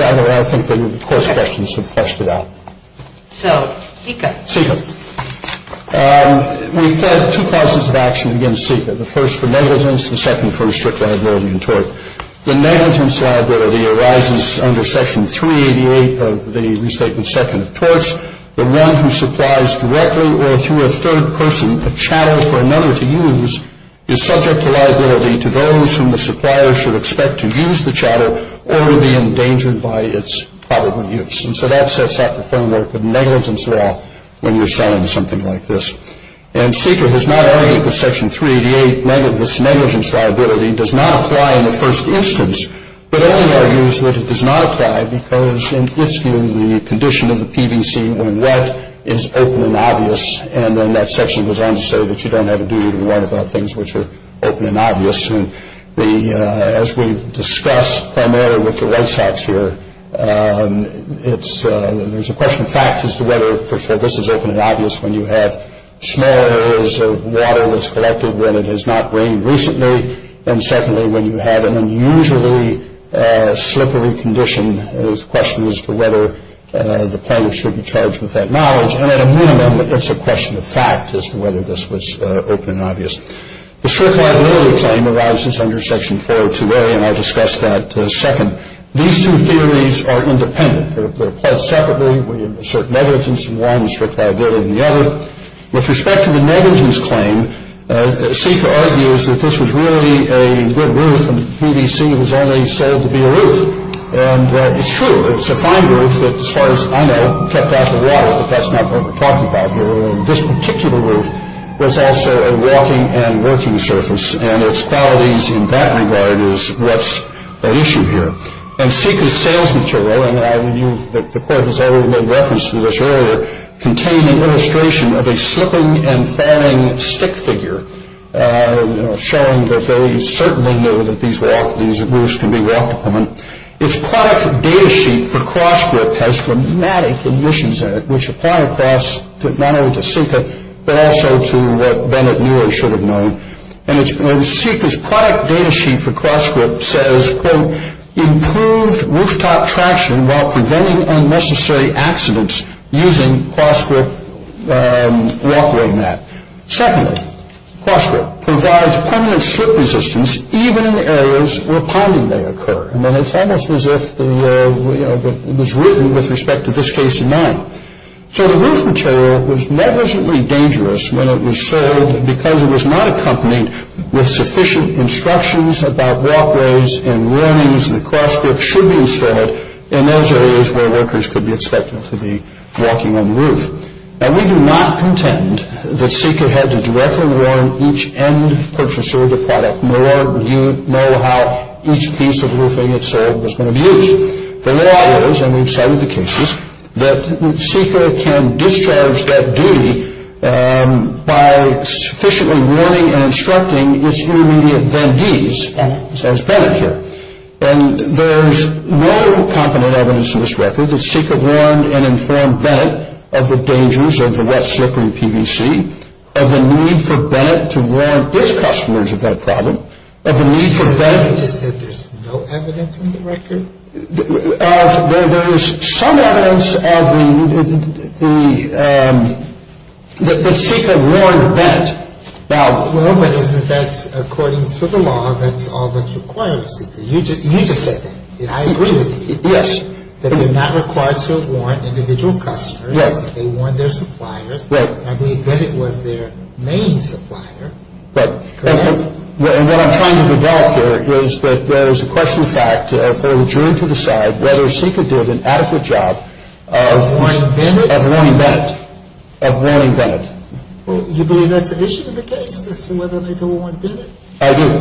I think the course questions have fleshed it out. So, Seeker. Seeker. We've had two causes of action against Seeker, the first for negligence, the second for restricted liability and tort. The negligence liability arises under Section 388 of the Restated Second of Torts. The one who supplies directly or through a third person a chattel for another to use is subject to liability to those whom the supplier should expect to use the chattel or be endangered by its probable use. And so that sets out the framework of negligence law when you're selling something like this. And Seeker has not argued that Section 388, this negligence liability, does not apply in the first instance, but only argues that it does not apply because it gives you the condition of the PVC when wet is open and obvious, and then that section goes on to say that you don't have a duty to warn about things which are open and obvious. And as we've discussed primarily with the White Sox here, there's a question of fact as to whether, first of all, this is open and obvious when you have small areas of water that's collected when it has not rained recently, and secondly, when you have an unusually slippery condition. There's a question as to whether the plumber should be charged with that mileage. And at a minimum, it's a question of fact as to whether this was open and obvious. The strict liability claim arises under Section 402A, and I'll discuss that second. These two theories are independent. They're applied separately when you have a certain negligence in one and strict liability in the other. With respect to the negligence claim, Sika argues that this was really a good roof, and PVC was only sold to be a roof. And it's true. It's a fine roof that, as far as I know, kept out the water, but that's not what we're talking about here. This particular roof was also a walking and working surface, and its faulties in that regard is what's at issue here. And Sika's sales material, and I knew that the Court has already made reference to this earlier, contain an illustration of a slipping and falling stick figure, showing that they certainly knew that these roofs can be walked upon. Its product data sheet for CrossGrip has dramatic omissions in it, which apply not only to Sika, but also to what Bennett knew or should have known. And Sika's product data sheet for CrossGrip says, quote, improved rooftop traction while preventing unnecessary accidents using CrossGrip walkway mat. Secondly, CrossGrip provides permanent slip resistance even in areas where pounding may occur. And it's almost as if it was written with respect to this case in mind. So the roof material was negligently dangerous when it was sold because it was not accompanied with sufficient instructions about walkways and warnings that CrossGrip should be installed in those areas where workers could be expected to be walking on the roof. Now, we do not contend that Sika had to directly warn each end purchaser of the product, nor do you know how each piece of roofing it sold was going to be used. The law goes, and we've cited the cases, that Sika can discharge that duty by sufficiently warning and instructing its intermediate vendees, as Bennett here. And there's no competent evidence in this record that Sika warned and informed Bennett of the dangers of the wet, slippery PVC, of the need for Bennett to warn his customers of that problem, of the need for Bennett to I said there's no evidence in the record? There is some evidence that Sika warned Bennett about Well, but isn't that, according to the law, that's all that's required of Sika? You just said that. I agree with you. Yes. That they're not required to have warned individual customers. Yes. They warned their suppliers. Right. I mean, Bennett was their main supplier, correct? And what I'm trying to develop here is that there's a question of fact, if they're adjourned to decide whether Sika did an adequate job of warning Bennett. You believe that's an issue in the case, to see whether they don't warn Bennett? I do,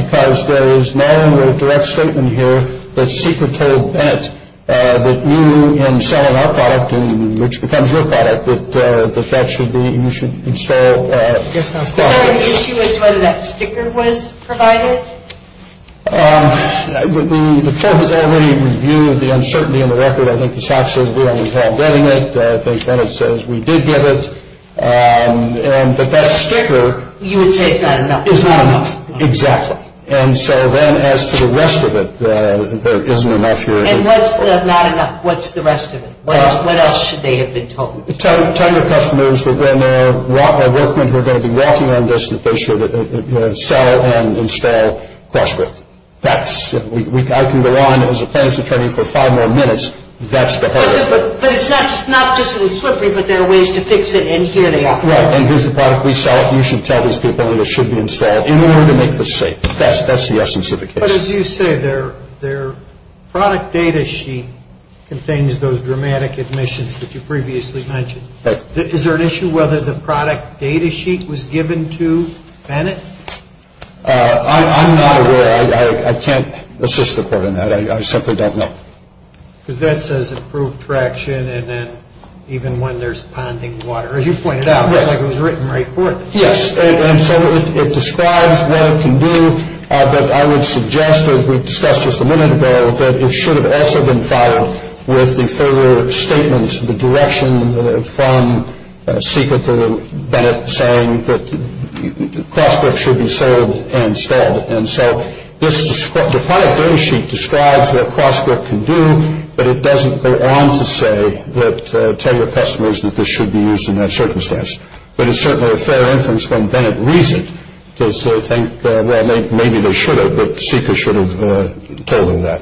because there is no direct statement here that Sika told Bennett that you, in selling our product, which becomes your product, that you should install Is there an issue as to whether that sticker was provided? The court has already reviewed the uncertainty in the record. I think the shop says we don't involve getting it. I think Bennett says we did get it. And that that sticker You would say is not enough. Is not enough, exactly. And so then, as to the rest of it, there isn't enough here. And what's the not enough? What's the rest of it? What else should they have been told? Tell your customers that when our workmen who are going to be working on this, that they should sell and install CrossGrip. I can go on as a plaintiff's attorney for five more minutes. That's the hard part. But it's not just that it's slippery, but there are ways to fix it, and here they are. Right, and here's the product we sell. You should tell these people that it should be installed in order to make this safe. That's the essence of the case. But as you say, their product data sheet contains those dramatic admissions that you previously mentioned. Is there an issue whether the product data sheet was given to Bennett? I'm not aware. I can't assist the court in that. I simply don't know. Because that says improved traction, and then even when there's ponding water. As you pointed out, it looks like it was written right for it. Yes, and so it describes what it can do. But I would suggest, as we discussed just a minute ago, that it should have also been followed with the further statement, the direction from Seeker to Bennett saying that CrossGrip should be sold instead. And so this product data sheet describes what CrossGrip can do, but it doesn't go on to say that tell your customers that this should be used in that circumstance. But it's certainly a fair inference when Bennett reads it to sort of think, well, maybe they should have, but Seeker should have told him that.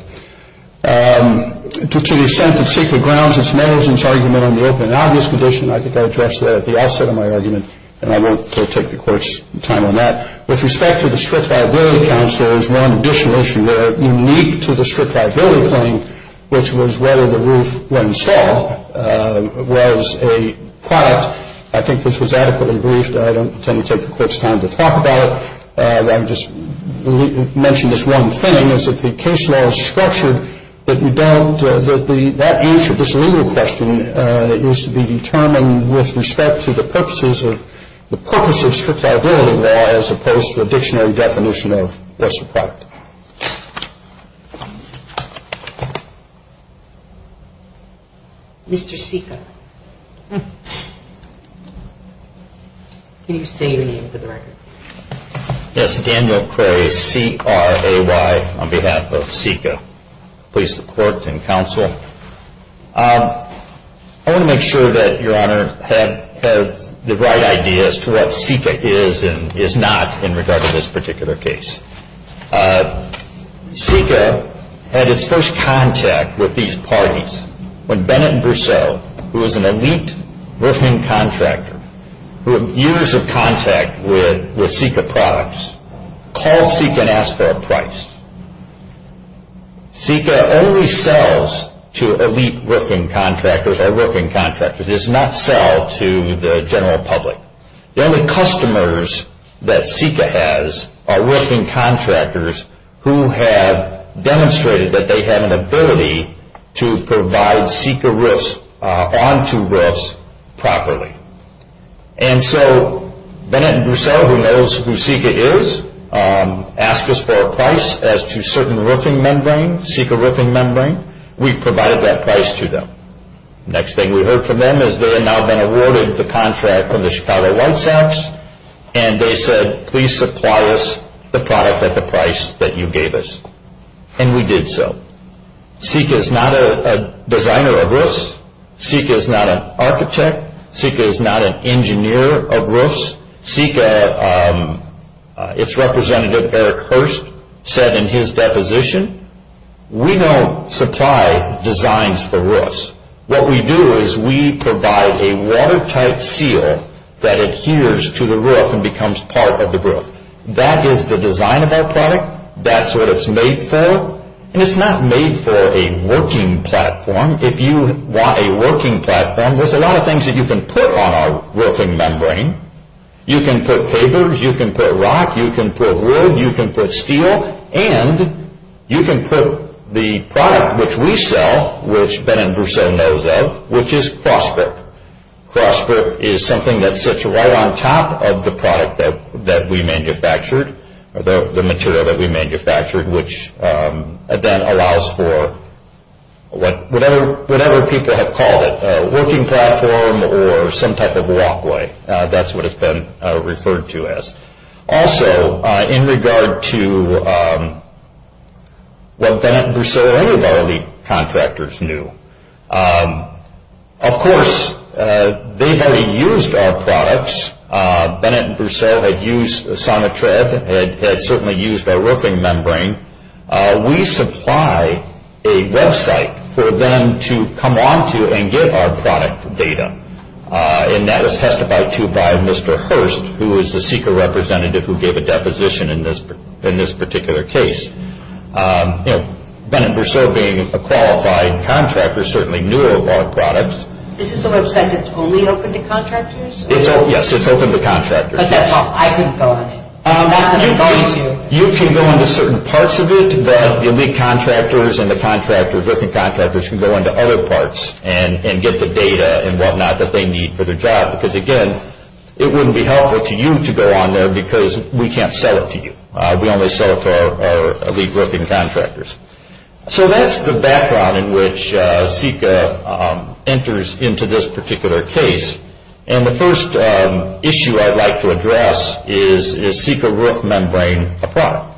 To the extent that Seeker grounds its nails in its argument on the open and obvious condition, I think I addressed that at the outset of my argument, and I won't take the court's time on that. With respect to the strict liability counsel, there is one additional issue there, unique to the strict liability claim, which was whether the roof, when installed, was a product. I think this was adequately briefed. I don't intend to take the court's time to talk about it. I would just mention this one thing, is that the case law is structured that you don't that the answer to this legal question is to be determined with respect to the purposes of the purpose of strict liability law as opposed to a dictionary definition of what's a product. Mr. Seeker. Can you say your name for the record? Yes. Daniel Cray, C-R-A-Y, on behalf of Seeker. Please support and counsel. I want to make sure that Your Honor has the right idea as to what Seeker is and is not in regard to this particular case. Seeker had its first contact with these parties when Bennett Brousseau, who was an elite roofing contractor who had years of contact with Seeker products, called Seeker and asked for a price. Seeker only sells to elite roofing contractors or roofing contractors. It does not sell to the general public. The only customers that Seeker has are roofing contractors who have demonstrated that they have an ability to provide Seeker roofs onto roofs properly. And so Bennett Brousseau, who knows who Seeker is, asked us for a price as to certain roofing membrane, Seeker roofing membrane. We provided that price to them. The next thing we heard from them is they had now been awarded the contract from the Chicago White Sox and they said, please supply us the product at the price that you gave us. And we did so. Seeker is not a designer of roofs. Seeker is not an architect. Seeker is not an engineer of roofs. Seeker, its representative, Eric Hurst, said in his deposition, we don't supply designs for roofs. What we do is we provide a watertight seal that adheres to the roof and becomes part of the roof. That is the design of our product. That's what it's made for. And it's not made for a working platform. If you want a working platform, there's a lot of things that you can put on our roofing membrane. You can put papers. You can put rock. You can put wood. You can put steel. And you can put the product which we sell, which Bennett Brousseau knows of, which is CrossBrip. CrossBrip is something that sits right on top of the product that we manufactured, the material that we manufactured, which then allows for whatever people have called it, a working platform or some type of walkway. That's what it's been referred to as. Also, in regard to what Bennett Brousseau or any of our elite contractors knew, of course, they've already used our products. Bennett Brousseau had used Sonitred, had certainly used our roofing membrane. We supply a website for them to come onto and get our product data. And that was testified to by Mr. Hurst, who is the SECA representative who gave a deposition in this particular case. Bennett Brousseau being a qualified contractor, certainly knew of our products. This is the website that's only open to contractors? Yes, it's open to contractors. But that's all. I couldn't go on it. You can go into certain parts of it, but the elite contractors and the contractors, roofing contractors, can go into other parts and get the data and whatnot that they need for their job. Because, again, it wouldn't be helpful to you to go on there because we can't sell it to you. We only sell it to our elite roofing contractors. So that's the background in which SECA enters into this particular case. And the first issue I'd like to address is, is SECA roof membrane a product?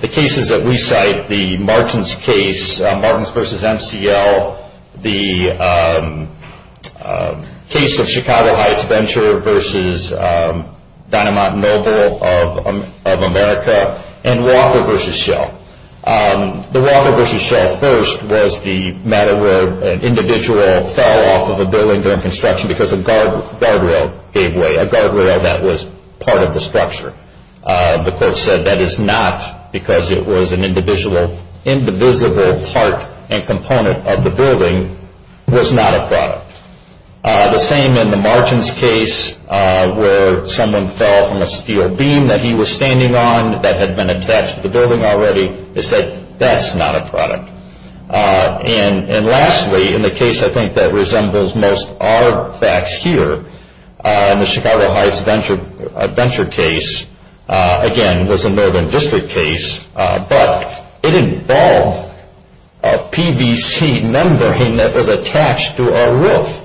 The cases that we cite, the Martins case, Martins v. MCL, the case of Chicago Heights Venture v. Dynamont Noble of America, and Walker v. Shell. The Walker v. Shell first was the matter where an individual fell off of a building during construction because a guardrail gave way, a guardrail that was part of the structure. The court said that is not because it was an indivisible part and component of the building, was not a product. The same in the Martins case where someone fell from a steel beam that he was standing on that had been attached to the building already. They said that's not a product. And lastly, in the case I think that resembles most of our facts here, the Chicago Heights Venture case, again, was a Northern District case, but it involved a PVC membrane that was attached to our roof.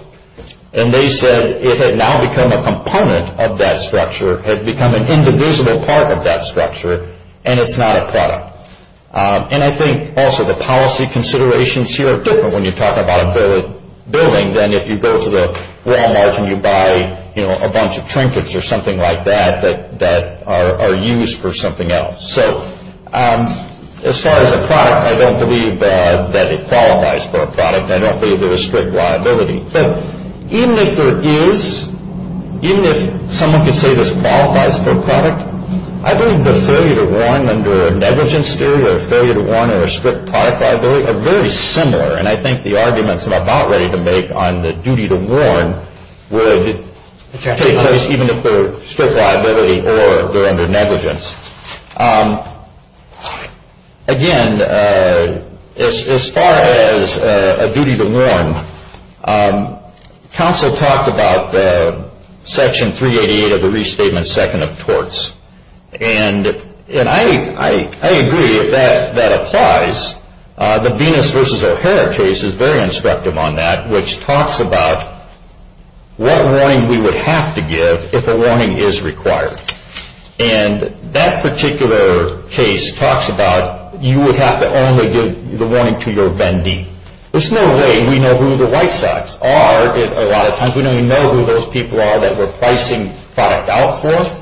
And they said it had now become a component of that structure, had become an indivisible part of that structure, and it's not a product. And I think also the policy considerations here are different when you talk about a building than if you go to the Walmart and you buy a bunch of trinkets or something like that that are used for something else. So as far as a product, I don't believe that it qualifies for a product. I don't believe there is strict liability. But even if there is, even if someone could say this qualifies for a product, I believe the failure to warn under a negligence theory or a failure to warn or a strict product liability are very similar. And I think the arguments I'm about ready to make on the duty to warn would take place even if they're strict liability or they're under negligence. Again, as far as a duty to warn, counsel talked about Section 388 of the Restatement Second of Torts. And I agree that that applies. The Venus v. O'Hara case is very instructive on that, which talks about what warning we would have to give if a warning is required. And that particular case talks about you would have to only give the warning to your vendee. There's no way we know who the white socks are a lot of times. We don't even know who those people are that we're pricing product out for.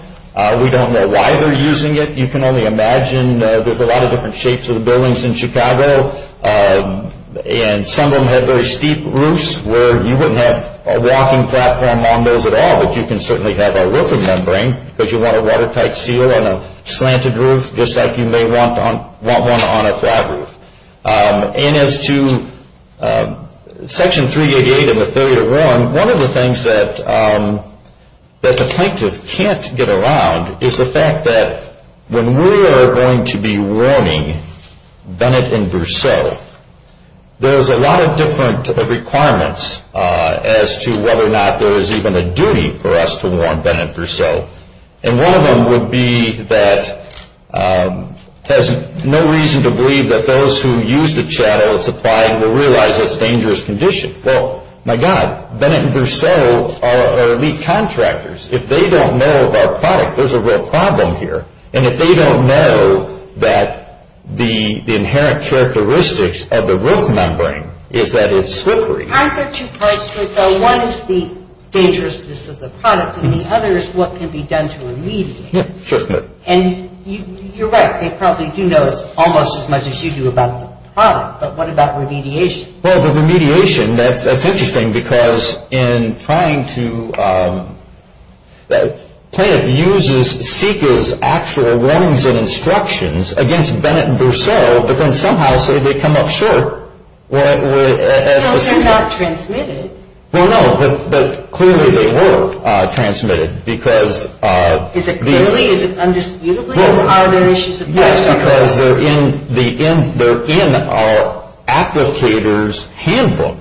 We don't know why they're using it. You can only imagine there's a lot of different shapes of the buildings in Chicago. And some of them have very steep roofs where you wouldn't have a walking platform on those at all, but you can certainly have a roofing membrane, because you want a watertight seal on a slanted roof, just like you may want one on a flat roof. And as to Section 388 and the failure to warn, one of the things that the plaintiff can't get around is the fact that when we are going to be warning Bennett and Berceau, there's a lot of different requirements as to whether or not there is even a duty for us to warn Bennett and Berceau. And one of them would be that there's no reason to believe that those who use the chattel it's supplying will realize it's a dangerous condition. Well, my God, Bennett and Berceau are elite contractors. If they don't know of our product, there's a real problem here. And if they don't know that the inherent characteristics of the roof membrane is that it's slippery. I've got two parts to it, though. One is the dangerousness of the product, and the other is what can be done to remediate it. Yeah, certainly. And you're right. They probably do know almost as much as you do about the product, but what about remediation? Well, the remediation, that's interesting, because in trying to plan it uses SICA's actual warnings and instructions against Bennett and Berceau, but then somehow say they come up short as to SICA. So they're not transmitted. Well, no, but clearly they were transmitted, because... Is it clearly? Is it undisputedly? Or are there issues of... Yes, because they're in our applicator's handbook,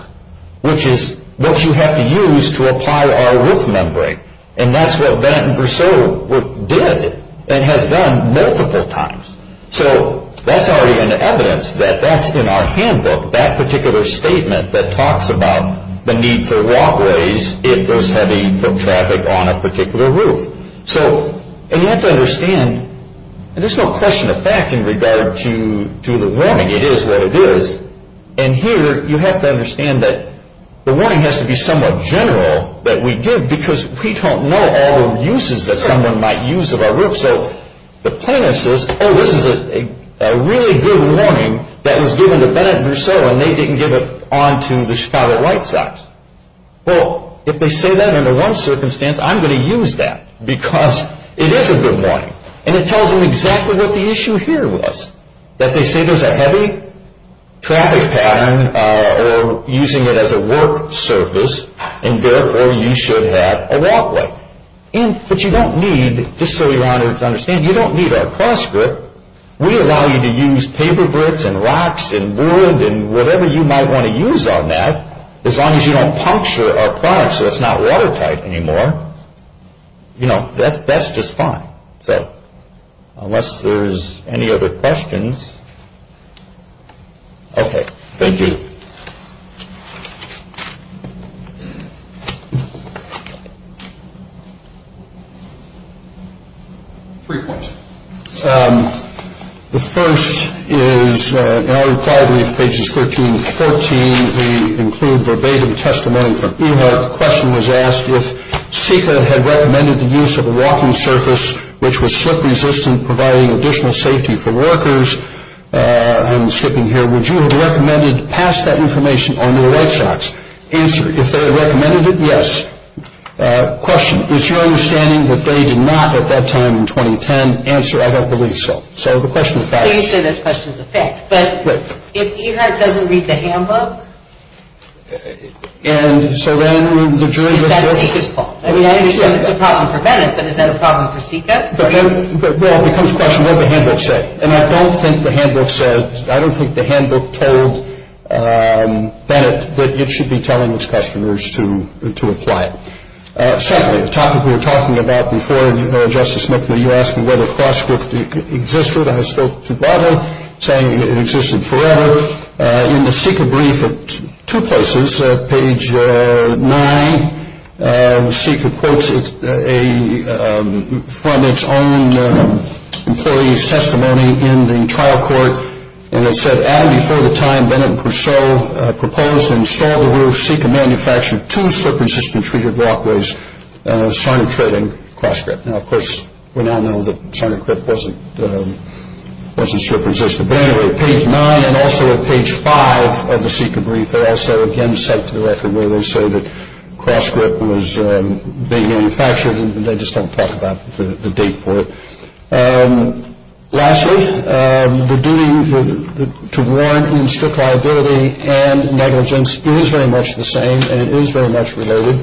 which is what you have to use to apply our roof membrane. And that's what Bennett and Berceau did and has done multiple times. So that's already an evidence that that's in our handbook, that particular statement that talks about the need for walkways if there's heavy foot traffic on a particular roof. And you have to understand, and there's no question of fact in regard to the warning. It is what it is. And here you have to understand that the warning has to be somewhat general that we give, because we don't know all the uses that someone might use of our roof. So the plaintiff says, oh, this is a really good warning that was given to Bennett and Berceau, and they didn't give it on to the Chicago White Sox. Well, if they say that under one circumstance, I'm going to use that, because it is a good warning. And it tells them exactly what the issue here was, that they say there's a heavy traffic pattern or using it as a work surface, and therefore you should have a walkway. But you don't need, just so you understand, you don't need our cross-grip. We allow you to use paper bricks and rocks and wood and whatever you might want to use on that, as long as you don't puncture our products so it's not watertight anymore, you know, that's just fine. So unless there's any other questions. Okay. Thank you. Three points. The first is in our required brief, pages 13 and 14, they include verbatim testimony from EHOP. The question was asked, if SICA had recommended the use of a walking surface which was slip-resistant, providing additional safety for workers, and I'm skipping here, would you have recommended to pass that information on to the White Sox? If they had recommended it, yes. Question. Is your understanding that they did not at that time in 2010 answer, I don't believe so. So the question is fact. So you say this question is a fact. But if EHOP doesn't read the handbook, is that SICA's fault? I mean, I understand it's a problem for Bennett, but is that a problem for SICA? Well, it becomes a question, what did the handbook say? And I don't think the handbook said, Bennett, that it should be telling its customers to apply. Secondly, a topic we were talking about before, Justice McNamara, you asked me whether Cross-Script existed. I spoke to Bobbitt saying it existed forever. In the SICA brief at two places, page 9, SICA quotes from its own employee's testimony in the trial court, and it said, Adam, before the time Bennett and Purcell proposed to install the roof, SICA manufactured two slip-resistant treated walkways, Sarnicritt and Cross-Script. Now, of course, we now know that Sarnicritt wasn't slip-resistant. But anyway, at page 9 and also at page 5 of the SICA brief, they also again cite to the record where they say that Cross-Script was being manufactured, and they just don't talk about the date for it. Lastly, the duty to warrant in strict liability and negligence is very much the same, and it is very much related,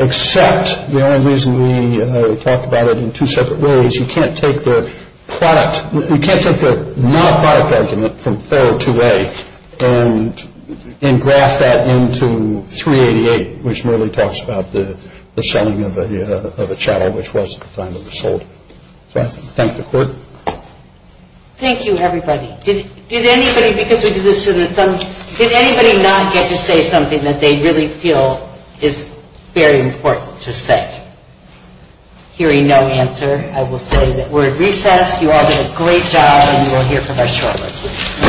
except the only reason we talk about it in two separate ways. You can't take the product. You can't take the non-product argument from 402A and graph that into 388, which merely talks about the selling of a chattel, which was at the time it was sold. So I thank the Court. Thank you, everybody. Did anybody, because we did this in the summer, did anybody not get to say something that they really feel is very important to say? Hearing no answer, I will say that we're at recess. You all did a great job, and you will hear from us shortly.